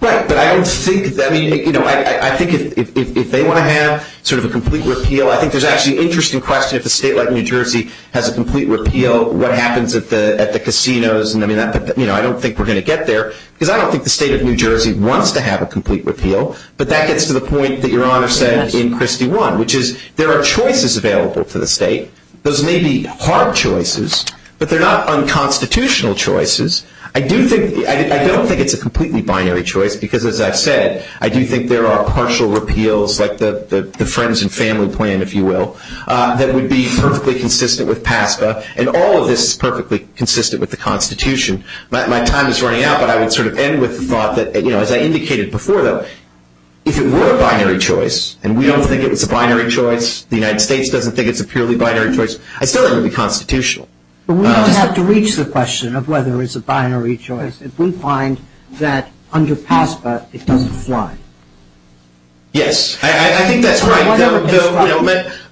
Right, but I don't think, I mean, you know, I think if they want to have sort of a complete repeal, I think there's actually an interesting question if a state like New Jersey has a complete repeal, what happens at the casinos? And, I mean, I don't think we're going to get there because I don't think the state of New Jersey wants to have a complete repeal. But that gets to the point that Your Honor said in Christie 1, which is there are choices available to the state. Those may be hard choices, but they're not unconstitutional choices. I don't think it's a completely binary choice because, as I've said, I do think there are partial repeals like the friends and family plan, if you will, that would be perfectly consistent with PASPA, and all of this is perfectly consistent with the Constitution. My time is running out, but I would sort of end with the thought that, you know, as I indicated before, though, if it were a binary choice, and we don't think it was a binary choice, the United States doesn't think it's a purely binary choice, I still think it would be constitutional. But we don't have to reach the question of whether it's a binary choice. It wouldn't find that under PASPA it doesn't apply. Yes, I think that's right.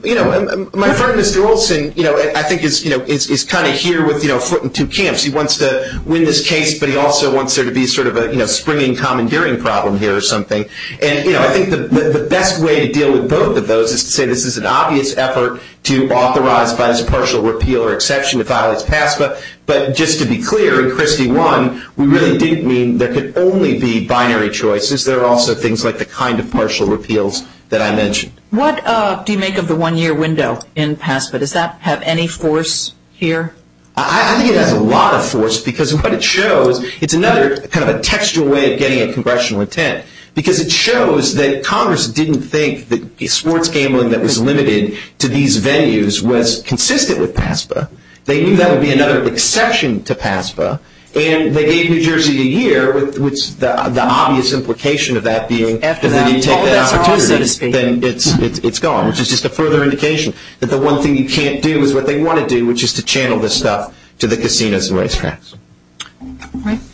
My friend, Mr. Olson, I think is kind of here with a foot in two camps. He wants to win this case, but he also wants there to be sort of a springing commandeering problem here or something. And I think the best way to deal with both of those is to say this is an obvious effort to authorize by this partial repeal or exception to file as PASPA. But just to be clear, in Christie I, we really didn't mean there could only be binary choices. There are also things like the kind of partial repeals that I mentioned. What do you make of the one-year window in PASPA? Does that have any force here? I think it has a lot of force, because what it shows, it's another kind of a textual way of getting a congressional intent, because it shows that Congress didn't think that sports gambling that was limited to these venues was consistent with PASPA. They knew that would be another exception to PASPA, and they gave New Jersey a year with the obvious implication of that being after they take that opportunity, then it's gone, which is just a further indication that the one thing you can't do is what they want to do, which is to channel this stuff to the casinos and racetracks.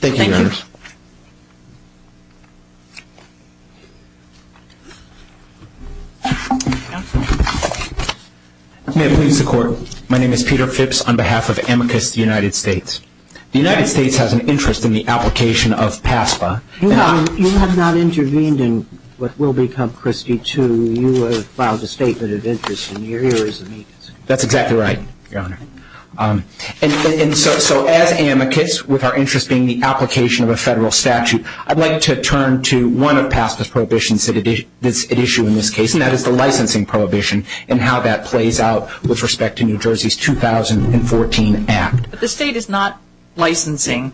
Thank you, Your Honors. May it please the Court. My name is Peter Phipps on behalf of Amicus United States. The United States has an interest in the application of PASPA. You have not intervened in what will become Christie II. You have filed a statement of interest, and you're here as an agent. That's exactly right, Your Honor. And so as Amicus, with our interest being the application of a federal statute, I'd like to turn to one of PASPA's prohibitions at issue in this case, and that is the licensing prohibition and how that plays out with respect to New Jersey's 2014 Act. But the state is not licensing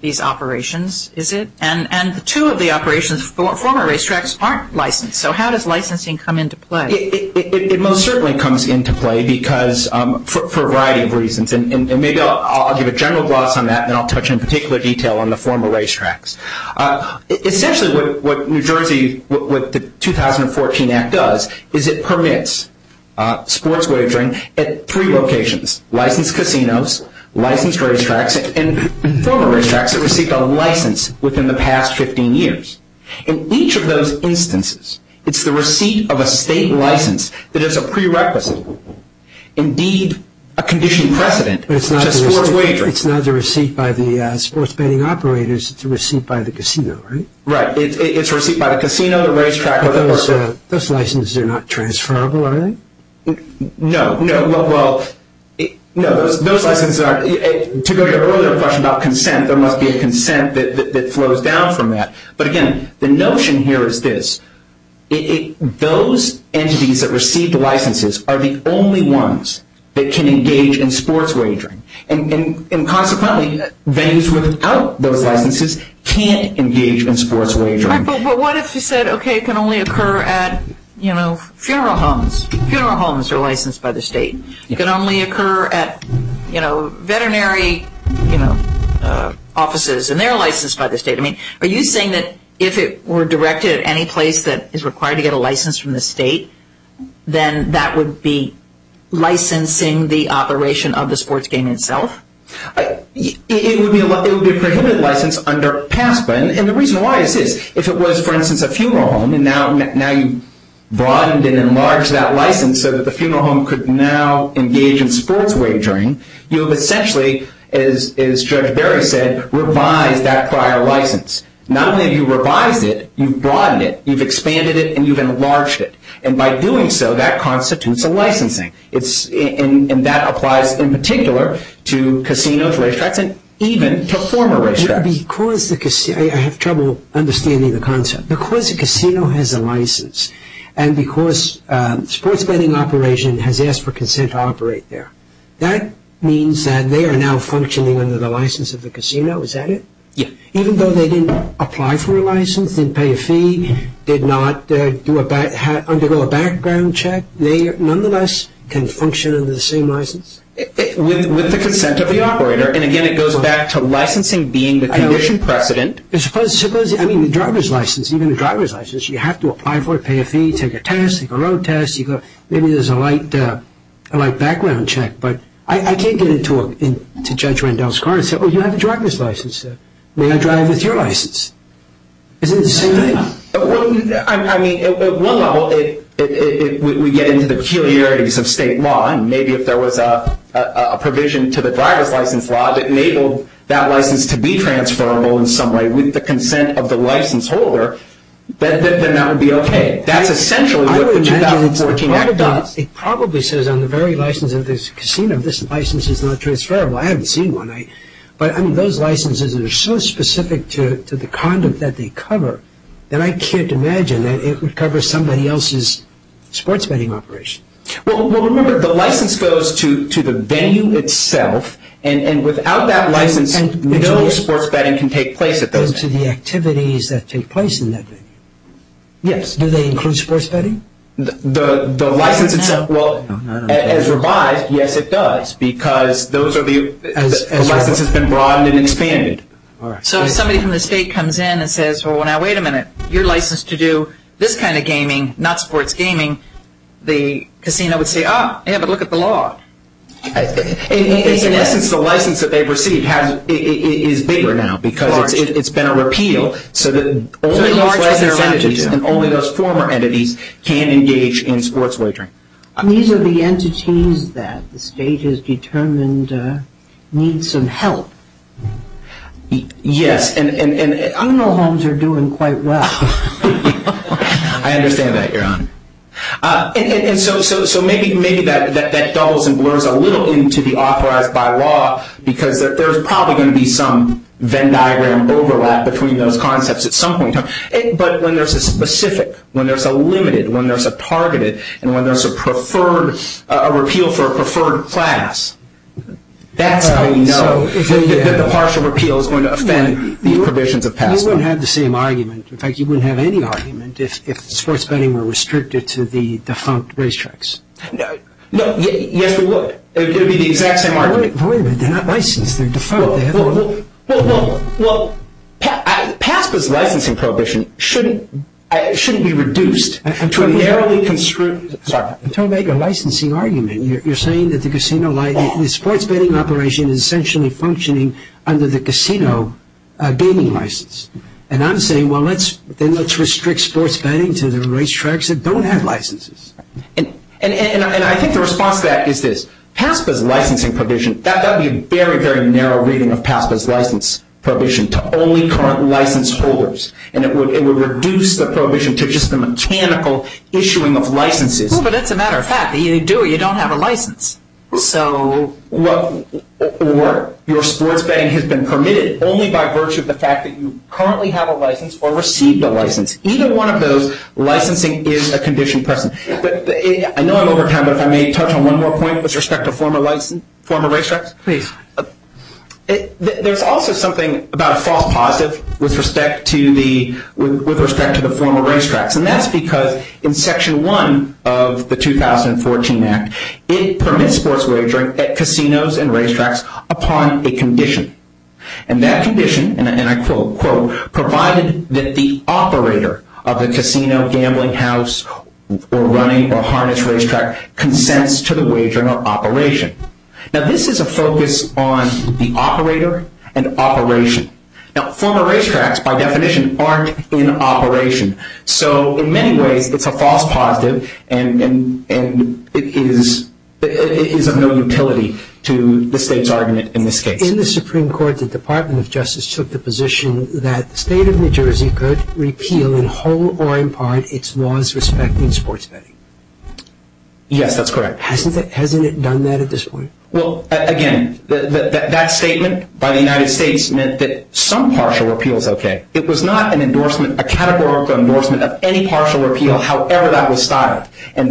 these operations, is it? And two of the operations, former racetracks, aren't licensed. So how does licensing come into play? It most certainly comes into play for a variety of reasons, and maybe I'll give a general gloss on that and then I'll touch in particular detail on the former racetracks. Essentially what New Jersey, what the 2014 Act does is it permits sports wagering at three locations, licensed casinos, licensed racetracks, and former racetracks that received a license within the past 15 years. In each of those instances, it's the receipt of a state license that is a prerequisite, indeed a condition precedent to sports wagering. It's not a receipt by the sports betting operators. It's a receipt by the casino, right? Right. It's a receipt by the casino, the racetrack, or the racetrack. Those licenses are not transferable, are they? No. No. Well, no, those licenses aren't. To go to your earlier question about consent, there must be a consent that flows down from that. But again, the notion here is this. Those entities that received licenses are the only ones that can engage in sports wagering. And consequently, venues without those licenses can't engage in sports wagering. But what if you said, okay, it can only occur at, you know, funeral homes. Funeral homes are licensed by the state. It can only occur at, you know, veterinary, you know, offices, and they're licensed by the state. I mean, are you saying that if it were directed at any place that is required to get a license from the state, then that would be licensing the operation of the sports game itself? It would be a prohibited license under PASPA. And the reason why is this. If it was, for instance, a funeral home, and now you've broadened and enlarged that license so that the funeral home could now engage in sports wagering, you have essentially, as Judge Berry said, revised that prior license. Not only have you revised it, you've broadened it, you've expanded it, and you've enlarged it. And by doing so, that constitutes a licensing. And that applies in particular to casinos, racetracks, and even to former racetracks. I have trouble understanding the concept. Because a casino has a license and because sports betting operation has asked for consent to operate there, that means that they are now functioning under the license of the casino. Is that it? Yes. Even though they didn't apply for a license, didn't pay a fee, did not undergo a background check, they nonetheless can function under the same license? With the consent of the operator. And, again, it goes back to licensing being the condition precedent. Suppose, I mean, the driver's license, even the driver's license, you have to apply for it, pay a fee, take a test, take a road test. Maybe there's a light background check. But I can't get into Judge Rendell's car and say, oh, you have a driver's license. May I drive with your license? Isn't it the same thing? I mean, at one level, we get into the peculiarities of state law, and maybe if there was a provision to the driver's license law that enabled that license to be transferable in some way with the consent of the license holder, then that would be okay. That's essentially what the 2014 act does. It probably says on the very license of this casino, this license is not transferable. I haven't seen one. But, I mean, those licenses are so specific to the conduct that they cover that I can't imagine that it would cover somebody else's sports betting operation. Well, remember, the license goes to the venue itself, and without that license, no sports betting can take place at that venue. And to the activities that take place in that venue. Yes. Do they include sports betting? The license itself, well, as revised, yes, it does, because the license has been broadened and expanded. So if somebody from the state comes in and says, well, now, wait a minute, you're licensed to do this kind of gaming, not sports gaming, the casino would say, ah, yeah, but look at the law. Unless it's the license that they've received, it is bigger now, because it's been a repeal. So only those former entities can engage in sports wagering. These are the entities that the state has determined need some help. Yes. Funeral homes are doing quite well. I understand that, Your Honor. And so maybe that doubles and blurs a little into the authorized by law, because there's probably going to be some Venn diagram overlap between those concepts at some point. But when there's a specific, when there's a limited, when there's a targeted, and when there's a repeal for a preferred class, that's how you know that the partial repeal is going to offend the provisions of past law. You wouldn't have the same argument. In fact, you wouldn't have any argument if sports betting were restricted to the defunct racetracks. No, yes, we would. It would be the exact same argument. But wait a minute. They're not licensed. They're defunct. Well, PASPA's licensing prohibition shouldn't be reduced to a narrowly construed, sorry, to make a licensing argument. You're saying that the casino, the sports betting operation is essentially functioning under the casino gaming license. And I'm saying, well, then let's restrict sports betting to the racetracks that don't have licenses. And I think the response to that is this. PASPA's licensing provision, that would be a very, very narrow reading of PASPA's license prohibition to only current license holders. And it would reduce the prohibition to just the mechanical issuing of licenses. Well, but that's a matter of fact. Either you do or you don't have a license. Or your sports betting has been permitted only by virtue of the fact that you currently have a license or received a license. Either one of those, licensing is a condition present. I know I'm over time, but if I may touch on one more point with respect to former racetracks. Please. There's also something about a false positive with respect to the former racetracks. And that's because in Section 1 of the 2014 Act, it permits sports wagering at casinos and racetracks upon a condition. And that condition, and I quote, quote, provided that the operator of the casino, gambling house, or running or harness racetrack consents to the wagering or operation. Now, this is a focus on the operator and operation. Now, former racetracks, by definition, aren't in operation. So, in many ways, it's a false positive and it is of no utility to the state's argument in this case. In the Supreme Court, the Department of Justice took the position that the state of New Jersey could repeal in whole or in part its laws respecting sports betting. Yes, that's correct. Hasn't it done that at this point? Well, again, that statement by the United States meant that some partial repeal is okay. It was not an endorsement, a categorical endorsement of any partial repeal, however that was styled. I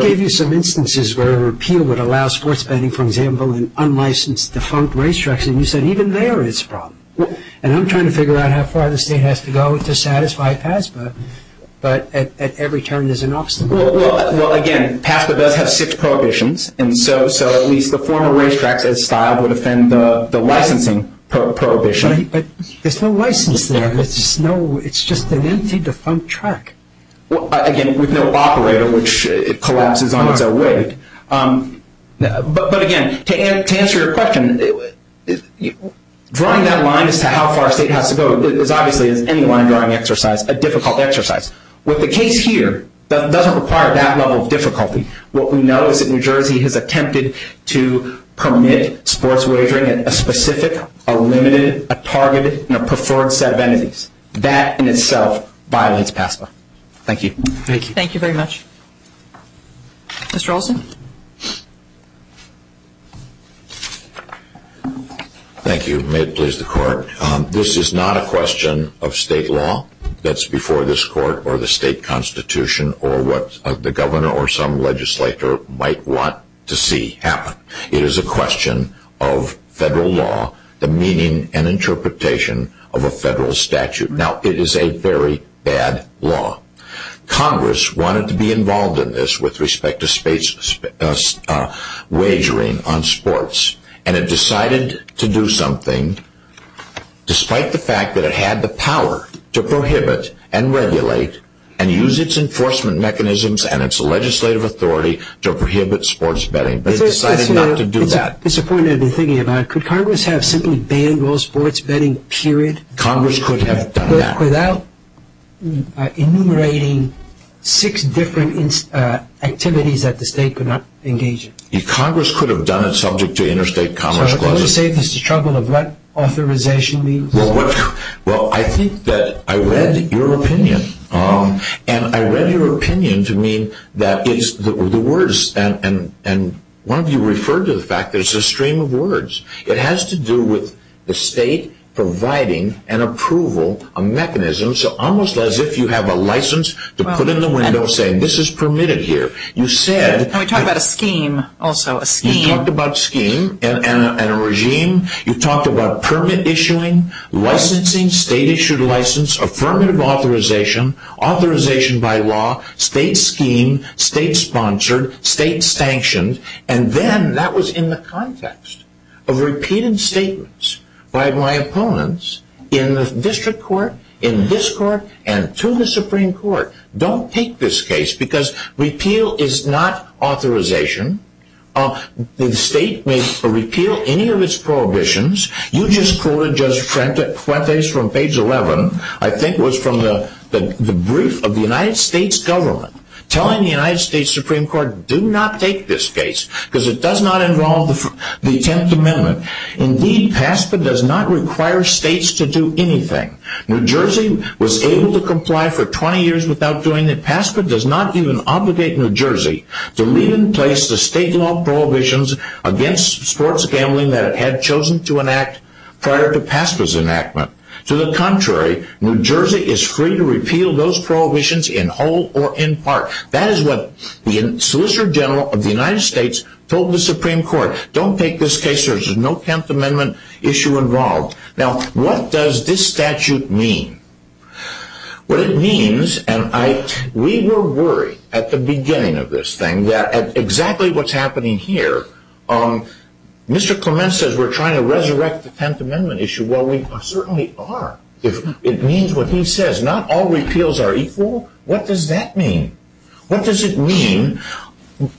gave you some instances where a repeal would allow sports betting, for example, in unlicensed, defunct racetracks, and you said even there it's a problem. And I'm trying to figure out how far the state has to go to satisfy PASPA, but at every turn there's an obstacle. Well, again, PASPA does have six prohibitions, and so at least the former racetracks, as styled, would offend the licensing prohibition. But there's no license there. It's just an empty, defunct track. Again, with no operator, which collapses on its own weight. But, again, to answer your question, drawing that line as to how far a state has to go is obviously, as any line drawing exercise, a difficult exercise. What the case here doesn't require that level of difficulty. What we know is that New Jersey has attempted to permit sports wagering at a specific, a limited, a targeted, and a preferred set of entities. That, in itself, violates PASPA. Thank you. Thank you very much. Mr. Olson. Thank you. May it please the Court. This is not a question of state law that's before this Court, or the state constitution, or what the governor or some legislator might want to see happen. It is a question of federal law, the meaning and interpretation of a federal statute. Now, it is a very bad law. Congress wanted to be involved in this with respect to wagering on sports. And it decided to do something, despite the fact that it had the power to prohibit and regulate and use its enforcement mechanisms and its legislative authority to prohibit sports betting. But it decided not to do that. It's a point I've been thinking about. Could Congress have simply banned all sports betting, period? Congress could have done that. Without enumerating six different activities that the state could not engage in. Congress could have done it subject to interstate commerce clauses. So, can you say this is a struggle of what authorization means? Well, I think that I read your opinion. And I read your opinion to mean that it's the words. And one of you referred to the fact that it's a stream of words. It has to do with the state providing an approval, a mechanism. So, almost as if you have a license to put in the window saying, this is permitted here. We talked about a scheme, also. You talked about scheme and a regime. You talked about permit issuing, licensing, state issued license, affirmative authorization, authorization by law, state scheme, state sponsored, state sanctioned. And then that was in the context of repeated statements by my opponents in the district court, in this court, and to the Supreme Court. Don't take this case because repeal is not authorization. The state may repeal any of its prohibitions. You just quoted Judge Fuentes from page 11, I think it was from the brief of the United States government, telling the United States Supreme Court, do not take this case because it does not involve the 10th Amendment. Indeed, PASPA does not require states to do anything. New Jersey was able to comply for 20 years without doing it. PASPA does not even obligate New Jersey to leave in place the state law prohibitions against sports gambling that it had chosen to enact prior to PASPA's enactment. To the contrary, New Jersey is free to repeal those prohibitions in whole or in part. That is what the Solicitor General of the United States told the Supreme Court. Don't take this case because there is no 10th Amendment issue involved. Now, what does this statute mean? What it means, and we were worried at the beginning of this thing that exactly what's happening here, Mr. Clement says we're trying to resurrect the 10th Amendment issue. Well, we certainly are. It means what he says, not all repeals are equal. What does that mean? What does it mean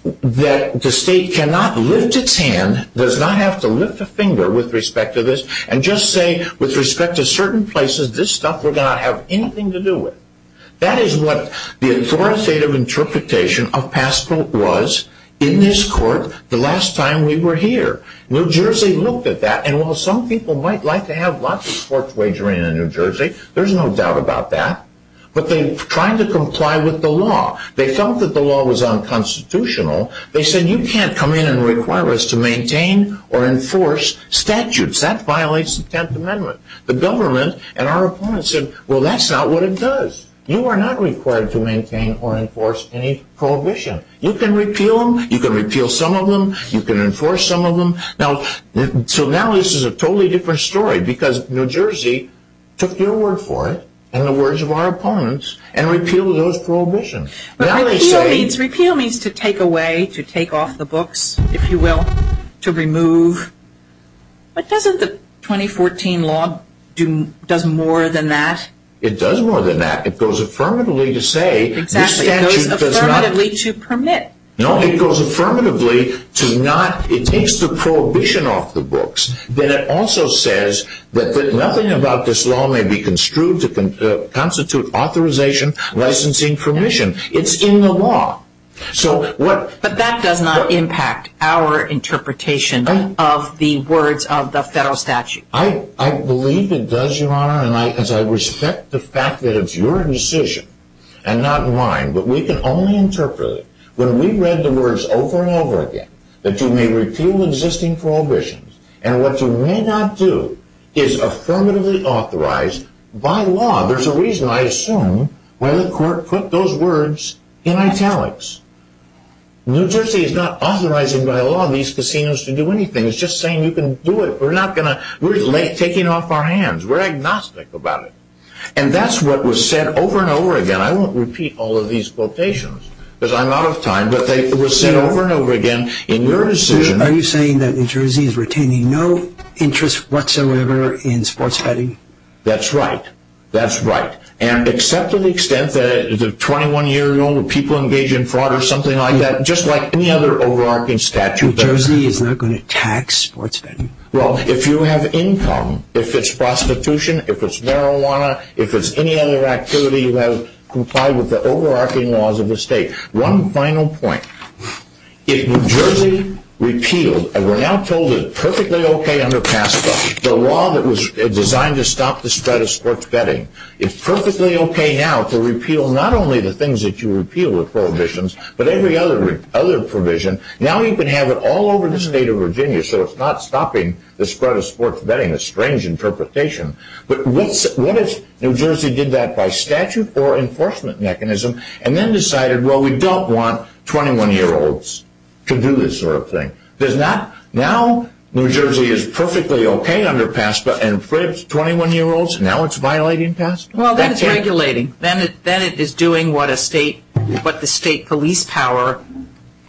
that the state cannot lift its hand, does not have to lift a finger with respect to this, and just say with respect to certain places, this stuff we're not going to have anything to do with? That is what the authoritative interpretation of PASPA was in this court the last time we were here. New Jersey looked at that, and while some people might like to have lots of sports wagering in New Jersey, there's no doubt about that, but they tried to comply with the law. They felt that the law was unconstitutional. They said you can't come in and require us to maintain or enforce statutes. That violates the 10th Amendment. The government and our opponents said, well, that's not what it does. You are not required to maintain or enforce any prohibition. You can repeal them. You can repeal some of them. You can enforce some of them. So now this is a totally different story because New Jersey took your word for it and the words of our opponents and repealed those prohibitions. But repeal means to take away, to take off the books, if you will, to remove. But doesn't the 2014 law do more than that? It does more than that. It goes affirmatively to say this statute does not. It goes affirmatively to permit. No, it goes affirmatively to not. It takes the prohibition off the books. Then it also says that nothing about this law may be construed to constitute authorization, licensing, permission. It's in the law. But that does not impact our interpretation of the words of the federal statute. I believe it does, Your Honor, and I respect the fact that it's your decision and not mine, but we can only interpret it when we read the words over and over again that you may repeal existing prohibitions and what you may not do is affirmatively authorize by law. There's a reason, I assume, why the court put those words in italics. New Jersey is not authorizing by law these casinos to do anything. It's just saying you can do it. We're taking off our hands. We're agnostic about it. And that's what was said over and over again. I won't repeat all of these quotations because I'm out of time, but they were said over and over again in your decision. Are you saying that New Jersey is retaining no interest whatsoever in sports betting? That's right. That's right. And except to the extent that 21-year-old people engage in fraud or something like that, just like any other overarching statute. New Jersey is not going to tax sports betting? Well, if you have income, if it's prostitution, if it's marijuana, if it's any other activity that complies with the overarching laws of the state. One final point. If New Jersey repealed, and we're now told it's perfectly okay under PASCA, the law that was designed to stop the spread of sports betting, it's perfectly okay now to repeal not only the things that you repeal with prohibitions, but every other provision. Now you can have it all over this state of Virginia, so it's not stopping the spread of sports betting, a strange interpretation. But what if New Jersey did that by statute or enforcement mechanism and then decided, well, we don't want 21-year-olds to do this sort of thing? Now New Jersey is perfectly okay under PASCA and prohibits 21-year-olds? Now it's violating PASCA? Well, then it's regulating. Then it is doing what the state police power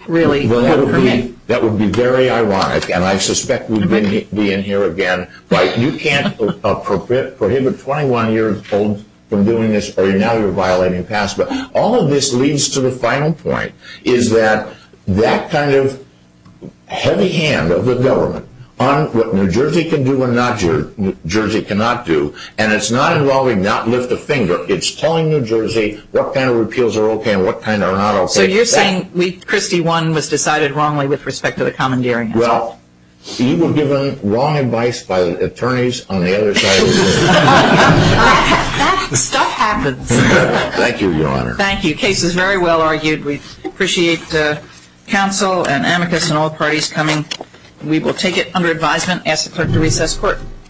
really permits. That would be very ironic, and I suspect we'd be in here again. You can't prohibit 21-year-olds from doing this, or now you're violating PASCA. All of this leads to the final point, is that that kind of heavy hand of the government on what New Jersey can do and what New Jersey cannot do, and it's not involving not lift a finger. It's telling New Jersey what kind of repeals are okay and what kind are not okay. So you're saying Christie 1 was decided wrongly with respect to the commandeering? Well, you were given wrong advice by the attorneys on the other side. That stuff happens. Thank you, Your Honor. Thank you. Case is very well argued. We appreciate counsel and amicus and all parties coming. We will take it under advisement. Ask the clerk to recess court.